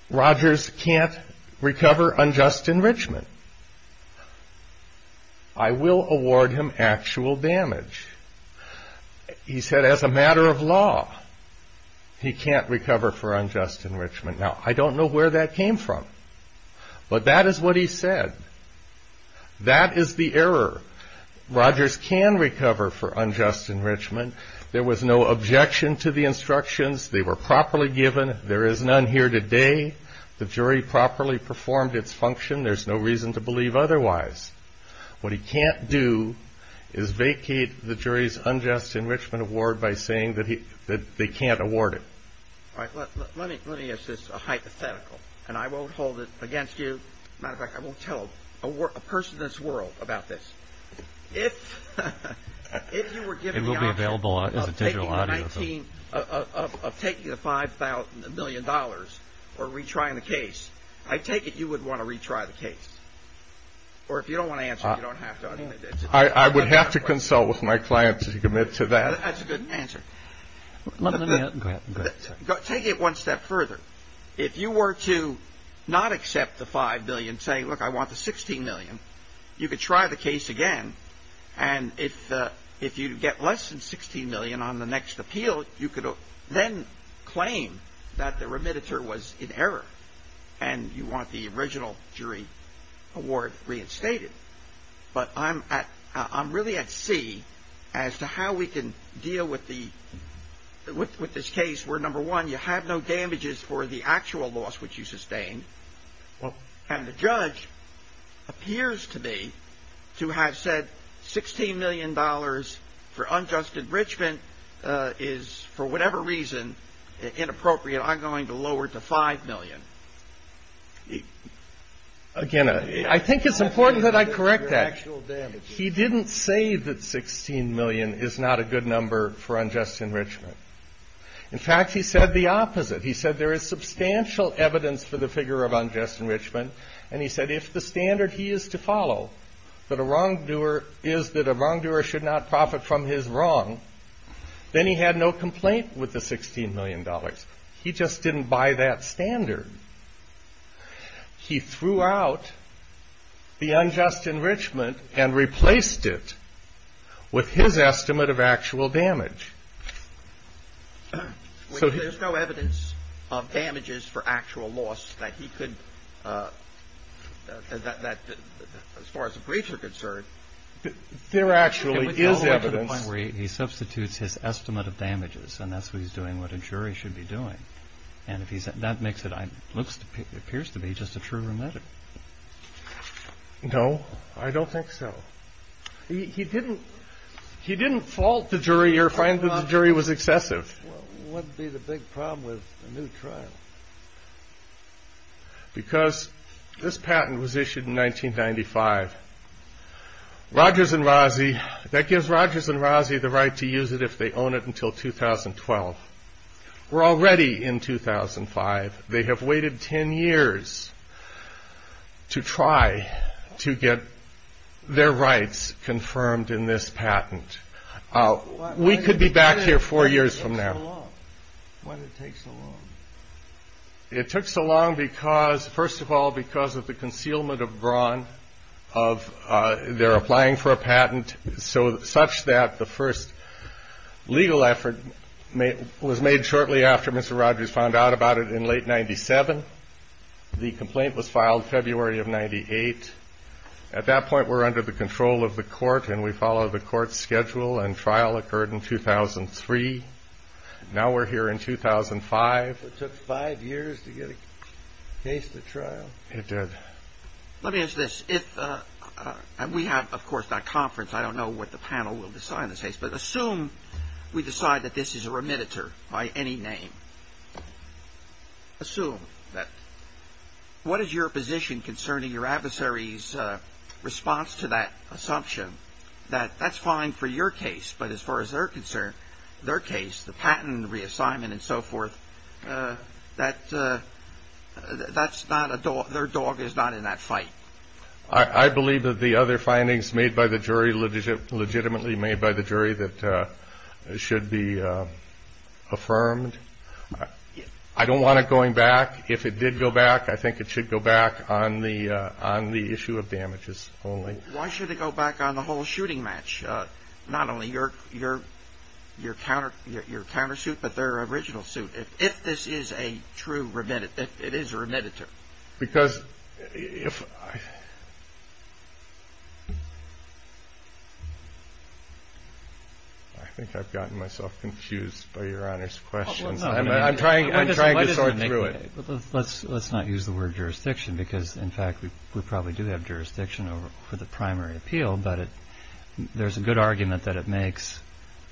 Rogers can't recover unjust enrichment. I will award him actual damage. He said, as a matter of law, he can't recover for unjust enrichment. Now, I don't know where that came from. But that is what he said. That is the error. Rogers can recover for unjust enrichment. There was no objection to the instructions. They were properly given. There is none here today. The jury properly performed its function. There's no reason to believe otherwise. What he can't do is vacate the jury's unjust enrichment award by saying that they can't award it. All right. Let me assist a hypothetical. And I won't hold it against you. As a matter of fact, I won't tell a person in this world about this. If you were given the option of taking the $5 million or retrying the case, I take it you would want to retry the case. Or if you don't want to answer, you don't have to. I would have to consult with my client to commit to that. That's a good answer. Take it one step further. If you were to not accept the $5 million, say, look, I want the $16 million, you could try the case again. And if you get less than $16 million on the next appeal, you could then claim that the remediator was in error. And you want the original jury award reinstated. But I'm really at sea as to how we can deal with this case where, number one, you have no damages for the actual loss which you sustained. And the judge appears to me to have said $16 million for unjust enrichment is, for whatever reason, inappropriate. I'm going to lower it to $5 million. Again, I think it's important that I correct that. He didn't say that $16 million is not a good number for unjust enrichment. In fact, he said the opposite. He said there is substantial evidence for the figure of unjust enrichment, and he said if the standard he used to follow that a wrongdoer is that a wrongdoer should not profit from his wrong, then he had no complaint with the $16 million. He just didn't buy that standard. He threw out the unjust enrichment and replaced it with his estimate of actual damage. There's no evidence of damages for actual loss that he could, as far as the breach is concerned. There actually is evidence. He substitutes his estimate of damages, and that's what he's doing, what a jury should be doing. And that makes it, it appears to me, just a true remedy. No, I don't think so. He didn't fault the jury or find that the jury was excessive. What would be the big problem with a new trial? Because this patent was issued in 1995. Rogers and Rozzi, that gives Rogers and Rozzi the right to use it if they own it until 2012. We're already in 2005. They have waited 10 years to try to get their rights confirmed in this patent. We could be back here four years from now. Why did it take so long? It took so long because, first of all, because of the concealment of brawn of their applying for a patent, such that the first legal effort was made shortly after Mr. Rogers found out about it in late 1997. The complaint was filed February of 98. At that point, we're under the control of the court, and we follow the court schedule, and trial occurred in 2003. Now we're here in 2005. It took five years to get a case to trial? It did. Let me ask this. We have, of course, that conference. I don't know what the panel will decide on this case, but assume we decide that this is a remediator by any name. Assume that. What is your position concerning your adversary's response to that assumption that that's fine for your case, but as far as their concern, their case, the patent reassignment and so forth, that their dog is not in that fight? I believe that the other findings made by the jury, legitimately made by the jury, should be affirmed. I don't want it going back. If it did go back, I think it should go back on the issue of damages only. Why should it go back on the whole shooting match? Not only your countersuit, but their original suit. If this is a true remediator, it is a remediator. Because if I ‑‑ I think I've gotten myself confused by your honest questions. I'm trying to sort through it. Let's not use the word jurisdiction, because in fact, we probably do have jurisdiction for the primary appeal, but there's a good argument that it makes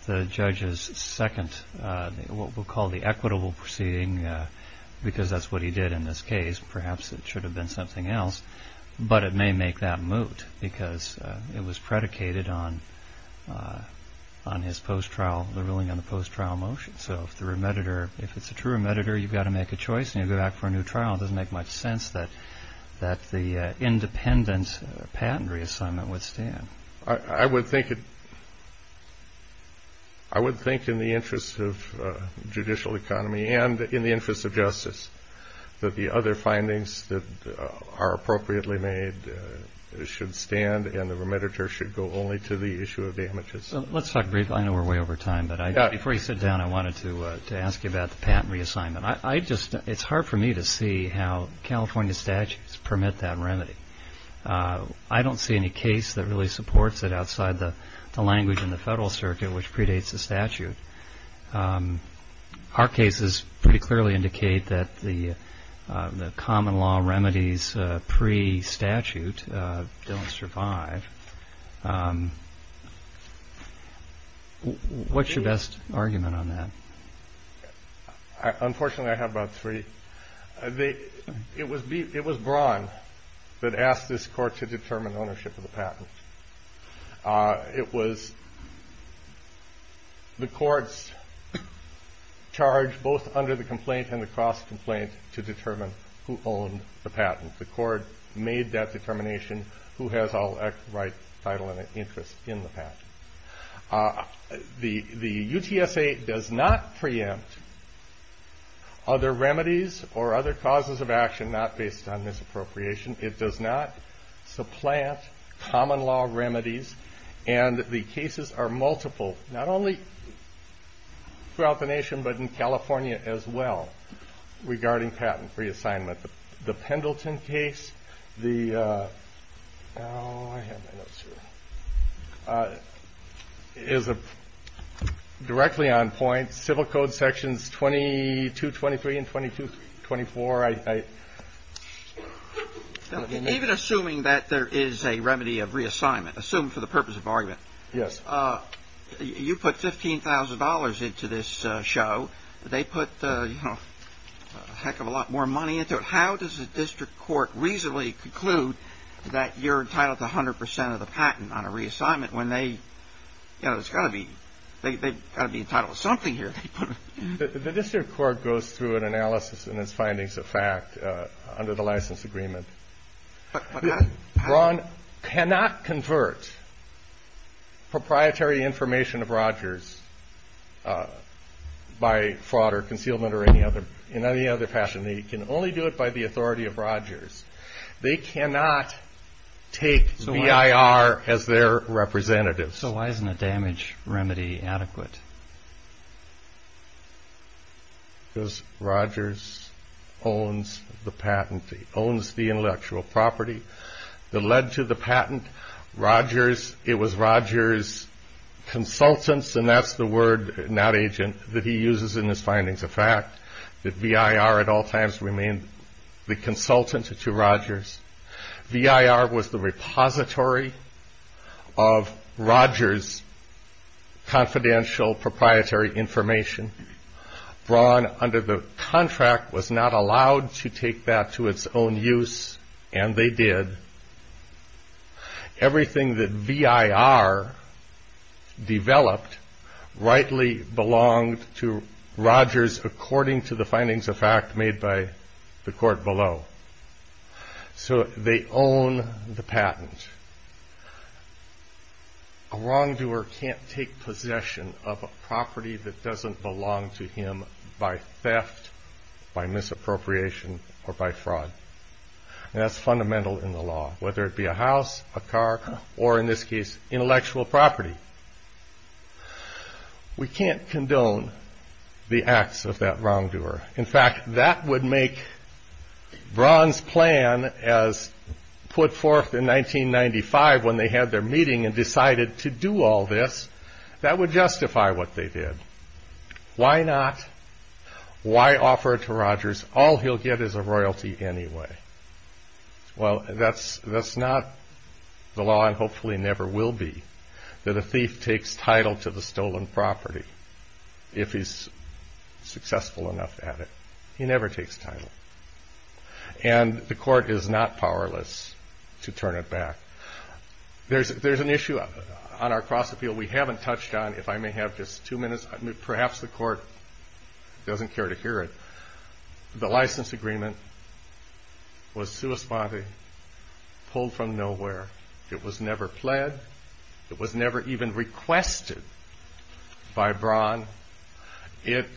the judge's second, what we'll call the equitable proceeding, because that's what he did in this case. Perhaps it should have been something else, but it may make that moot, because it was predicated on his post‑trial ruling on the post‑trial motion. So if it's a true remediator, you've got to make a choice, and you go back for a new trial. It doesn't make much sense that the independent patent reassignment would stand. I would think in the interest of judicial economy and in the interest of justice that the other findings that are appropriately made should stand, and the remediator should go only to the issue of damages. Let's talk briefly. I know we're way over time, but before you sit down, I wanted to ask you about the patent reassignment. It's hard for me to see how California statutes permit that remedy. I don't see any case that really supports it outside the language in the federal circuit which predates the statute. Our cases pretty clearly indicate that the common law remedies pre‑statute don't survive. What's your best argument on that? Unfortunately, I have about three. It was Broad that asked this court to determine ownership of the patent. It was the court's charge both under the complaint and the cross-complaint to determine who owned the patent. The court made that determination who has all rights, title, and interest in the patent. The UTSA does not preempt other remedies or other causes of action not based on this appropriation. It does not supplant common law remedies, and the cases are multiple not only throughout the nation but in California as well regarding patent reassignment. The Pendleton case is directly on point. It's in the federal code sections 2223 and 2224, I think. Even assuming that there is a remedy of reassignment, assumed for the purpose of argument, you put $15,000 into this show. They put a heck of a lot more money into it. How does the district court reasonably conclude that you're entitled to 100% of the patent on a reassignment when they have to be entitled to something here? The district court goes through an analysis and its findings of fact under the license agreement. Broad cannot convert proprietary information of Rogers by fraud or concealment or in any other fashion. They can only do it by the authority of Rogers. They cannot take VIR as their representative. So why isn't a damage remedy adequate? Because Rogers owns the patent. He owns the intellectual property that led to the patent. It was Rogers' consultants, and that's the word in that agent that he uses in his findings of fact, that VIR at all times remained the consultant to Rogers. VIR was the repository of Rogers' confidential proprietary information. Braun, under the contract, was not allowed to take that to its own use, and they did. Everything that VIR developed rightly belonged to Rogers according to the findings of fact made by the court below. A wrongdoer can't take possession of a property that doesn't belong to him by theft, by misappropriation, or by fraud. That's fundamental in the law, whether it be a house, a car, or in this case, intellectual property. We can't condone the acts of that wrongdoer. In fact, that would make Braun's plan as put forth in 1995 when they had their meeting and decided to do all this, that would justify what they did. Why not? Why offer it to Rogers? All he'll get is a royalty anyway. Well, that's not the law, and hopefully never will be, that a thief takes title to the stolen property if he's successful enough at it. He never takes title. And the court is not powerless to turn it back. There's an issue on our cross-appeal we haven't touched on. If I may have just two minutes, perhaps the court doesn't care to hear it. The license agreement was civil spotting, pulled from nowhere. It was never fled. It was never even requested by Braun. It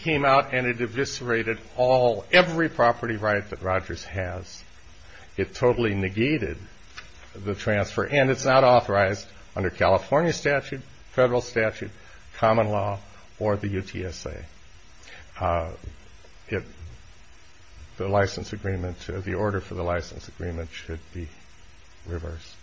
came out and it eviscerated all, every property right that Rogers has. It totally negated the transfer, and it's not authorized under California statute, federal statute, common law, or the UTSA. The license agreement, the order for the license agreement should be reversed.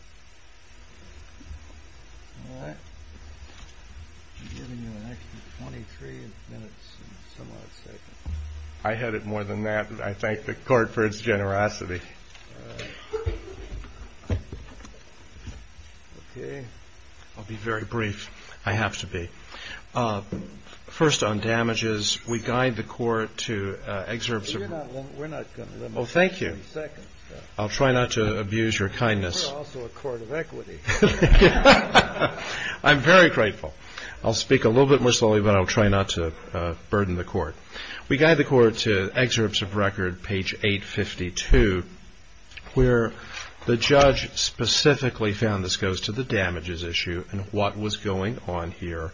I had it more than that. I thank the court for its generosity. I'll be very brief. I have to be. First on damages, we guide the court to exert some. We're not going to limit you. I'll try not to abuse your kindness. You're also a court of equity. I'm very grateful. I'll speak a little bit more slowly, but I'll try not to burden the court. We guide the court to excerpts of record, page 852, where the judge specifically found this goes to the damages issue and what was going on here.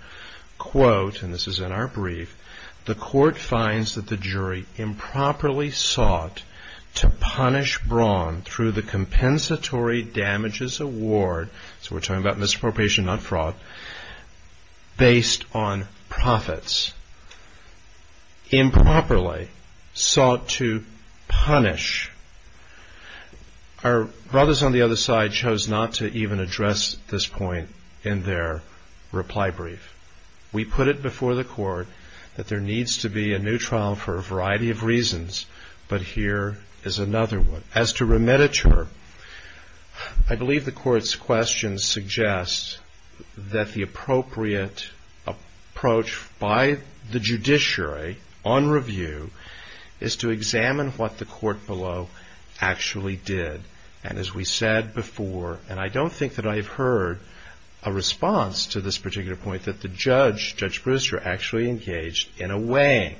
Quote, and this is in our brief, the court finds that the jury improperly sought to punish Braun through the compensatory damages award, so we're talking about misappropriation, not fraud, based on profits. Improperly sought to punish. Our brothers on the other side chose not to even address this point in their reply brief. We put it before the court that there needs to be a new trial for a variety of reasons, but here is another one. As to remediature, I believe the court's question suggests that the appropriate approach by the judiciary on review is to examine what the court below actually did. And as we said before, and I don't think that I've heard a response to this particular point that the judge, Judge Brewster, actually engaged in a way.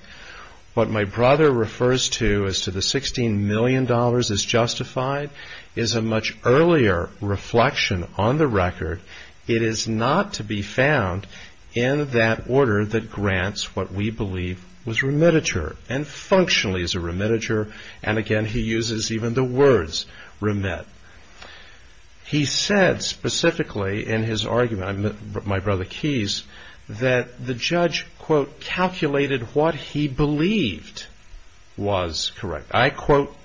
What my brother refers to as to the $16 million as justified is a much earlier reflection on the record. It is not to be found in that order that grants what we believe was remediature and functionally is a remediature, and again, he uses even the words remit. He said specifically in his argument, my brother Keyes, that the judge, quote, calculated what he believed was correct. I quote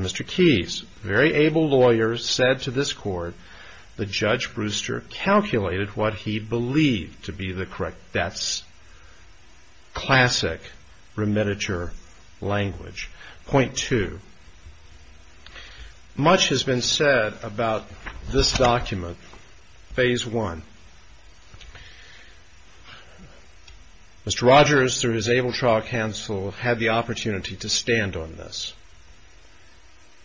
Mr. Keyes, very able lawyer, said to this court, the judge Brewster calculated what he believed to be the correct. That's classic remediature language. Point two. Much has been said about this document, phase one. Mr. Rogers, through his able trial counsel, had the opportunity to stand on this.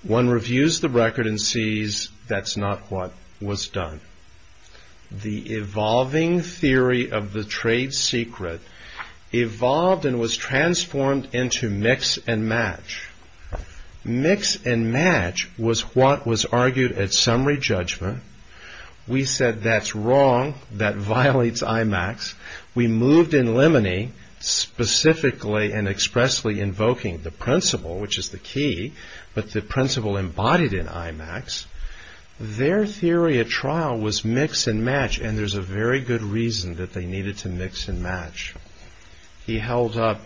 One reviews the record and sees that's not what was done. The evolving theory of the trade secret evolved and was transformed into mix and match. Mix and match was what was argued at summary judgment. We said that's wrong, that violates IMAX. We moved in limine, specifically and expressly invoking the principle, which is the key, but the principle embodied in IMAX. Their theory at trial was mix and match, and there's a very good reason that they needed to mix and match. He held up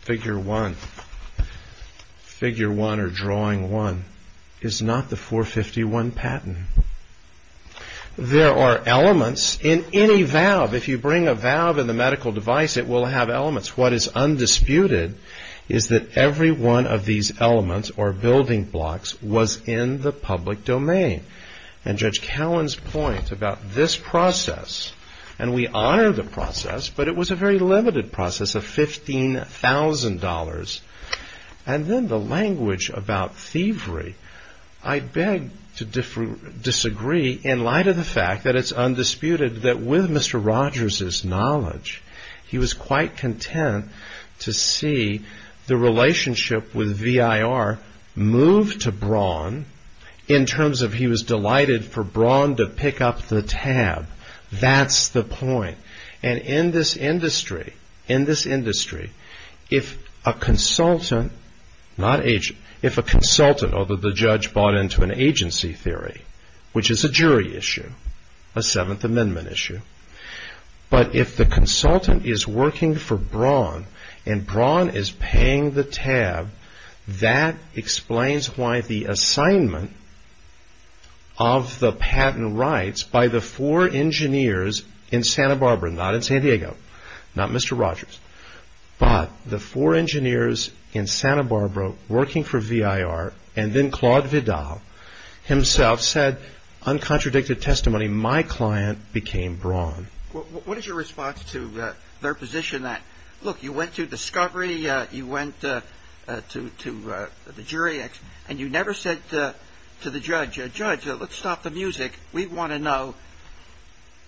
figure one. Figure one or drawing one is not the 451 patent. There are elements in any valve. If you bring a valve in the medical device, it will have elements. What is undisputed is that every one of these elements or building blocks was in the public domain. And Judge Cowan's point about this process, and we honor the process, but it was a very limited process of $15,000. And then the language about thievery. I beg to disagree in light of the fact that it's undisputed that with Mr. Rogers' knowledge, he was quite content to see the relationship with VIR move to Braun in terms of he was delighted for Braun to pick up the tab. That's the point. And in this industry, if a consultant, although the judge bought into an agency theory, which is a jury issue, a Seventh Amendment issue, but if the consultant is working for Braun and Braun is paying the tab, that explains why the assignment of the patent rights by the four engineers in Santa Barbara, not in San Diego, not Mr. Rogers, but the four engineers in Santa Barbara working for VIR and then Claude Vidal himself said, uncontradicted testimony, my client became Braun. What is your response to their position that, look, you went to discovery, you went to the jury, and you never said to the judge, Judge, let's stop the music. We want to know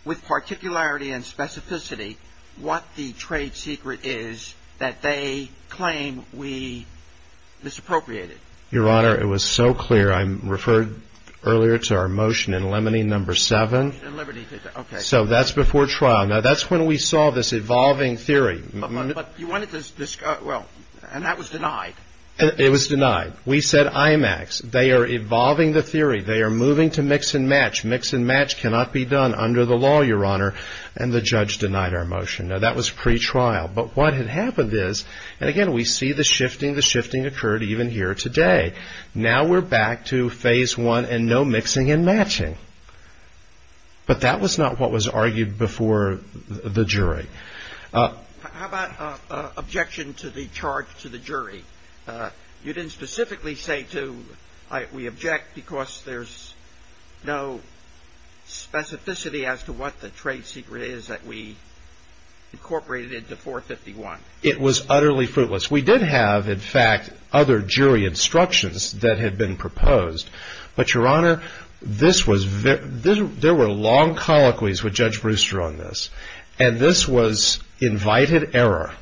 with particularity and specificity what the trade secret is that they claim we misappropriated. Your Honor, it was so clear. I referred earlier to our motion in lemony number seven. In lemony, okay. So that's before trial. Now, that's when we saw this evolving theory. But you wanted to, well, and that was denied. It was denied. We said IMAX. They are evolving the theory. They are moving to mix and match. Mix and match cannot be done under the law, Your Honor, and the judge denied our motion. Now, that was pre-trial. But what had happened is, again, we see the shifting. The shifting occurred even here today. Now we're back to phase one and no mixing and matching. But that was not what was argued before the jury. How about objection to the charge to the jury? You didn't specifically say to we object because there's no specificity as to what the trade secret is that we incorporated into 451. It was utterly fruitless. We did have, in fact, other jury instructions that had been proposed. But, Your Honor, this was, there were long colloquies with Judge Brewster on this. And this was invited error.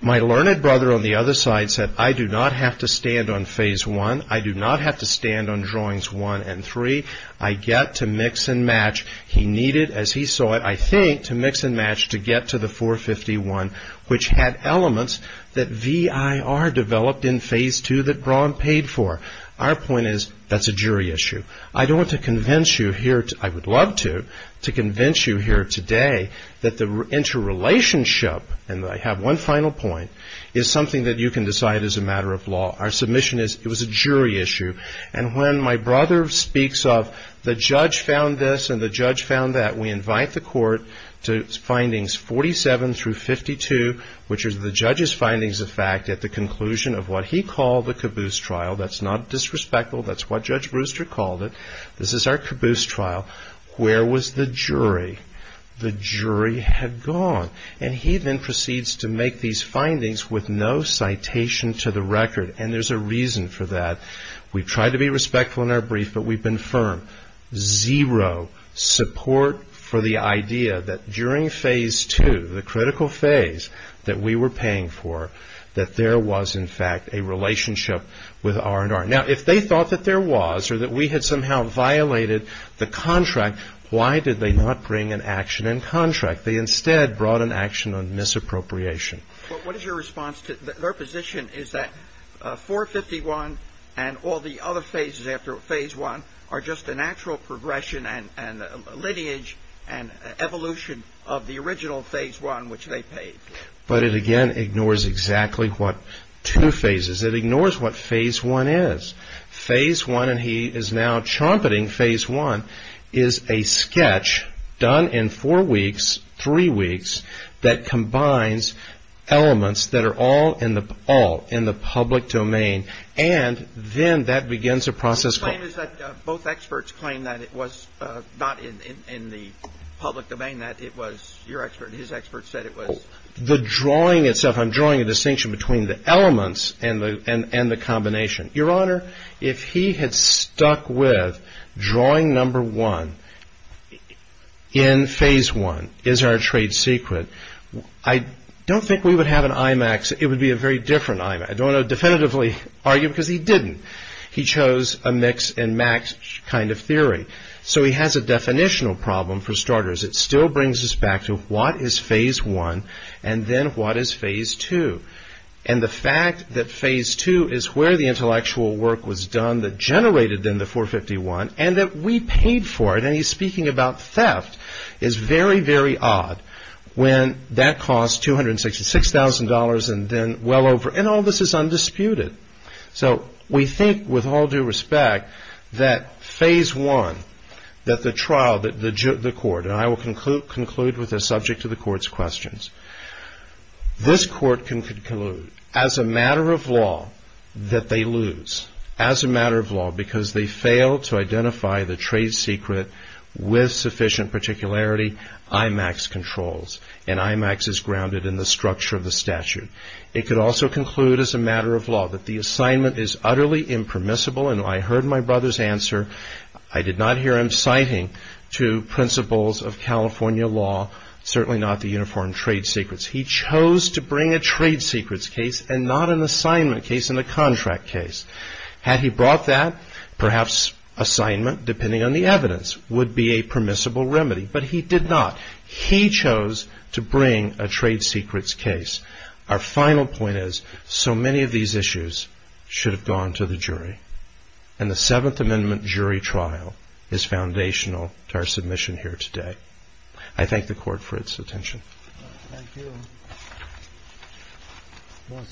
My learned brother on the other side said I do not have to stand on phase one. I do not have to stand on drawings one and three. I get to mix and match. He needed, as he saw it, I think, to mix and match to get to the 451, which had elements that VIR developed in phase two that Braun paid for. Our point is that's a jury issue. I don't want to convince you here, I would love to, to convince you here today that the interrelationship, and I have one final point, is something that you can decide as a matter of law. Our submission is it was a jury issue. And when my brother speaks of the judge found this and the judge found that, we invite the court to findings 47 through 52, which are the judge's findings of fact at the conclusion of what he called the caboose trial. That's not disrespectful. That's what Judge Brewster called it. This is our caboose trial. Where was the jury? The jury had gone. And he then proceeds to make these findings with no citation to the record. And there's a reason for that. We tried to be respectful in our brief, but we've been firm. Zero support for the idea that during phase two, the critical phase that we were paying for, that there was, in fact, a relationship with R&R. Now, if they thought that there was or that we had somehow violated the contract, why did they not bring an action in contract? They instead brought an action on misappropriation. What is your response to their position is that 451 and all the other phases after phase one are just a natural progression and lineage and evolution of the original phase one, which they paid? But it, again, ignores exactly what two phases. It ignores what phase one is. Phase one, and he is now trumpeting phase one, is a sketch done in four weeks, three weeks, that combines elements that are all in the public domain. And then that begins a process. The claim is that both experts claim that it was not in the public domain, that it was your expert and his expert said it was. The drawing itself, I'm drawing a distinction between the elements and the combination. Your Honor, if he had stuck with drawing number one in phase one is our trade secret, I don't think we would have an IMAX. It would be a very different IMAX. I don't want to definitively argue because he didn't. He chose a mix and match kind of theory. So he has a definitional problem for starters. It still brings us back to what is phase one and then what is phase two. And the fact that phase two is where the intellectual work was done that generated in the 451 and that we paid for it, and he's speaking about theft, is very, very odd. When that costs $266,000 and then well over, and all this is undisputed. So we think, with all due respect, that phase one, that the trial, the court, and I will conclude with the subject of the court's questions. This court can conclude, as a matter of law, that they lose. As a matter of law, because they fail to identify the trade secret with sufficient particularity, IMAX controls. And IMAX is grounded in the structure of the statute. It could also conclude as a matter of law that the assignment is utterly impermissible. And I heard my brother's answer. I did not hear him citing to principles of California law, certainly not the uniform trade secrets. He chose to bring a trade secrets case and not an assignment case and a contract case. Had he brought that, perhaps assignment, depending on the evidence, would be a permissible remedy. But he did not. He chose to bring a trade secrets case. Our final point is, so many of these issues should have gone to the jury. And the Seventh Amendment jury trial is foundational to our submission here today. I thank the court for its attention. Thank you.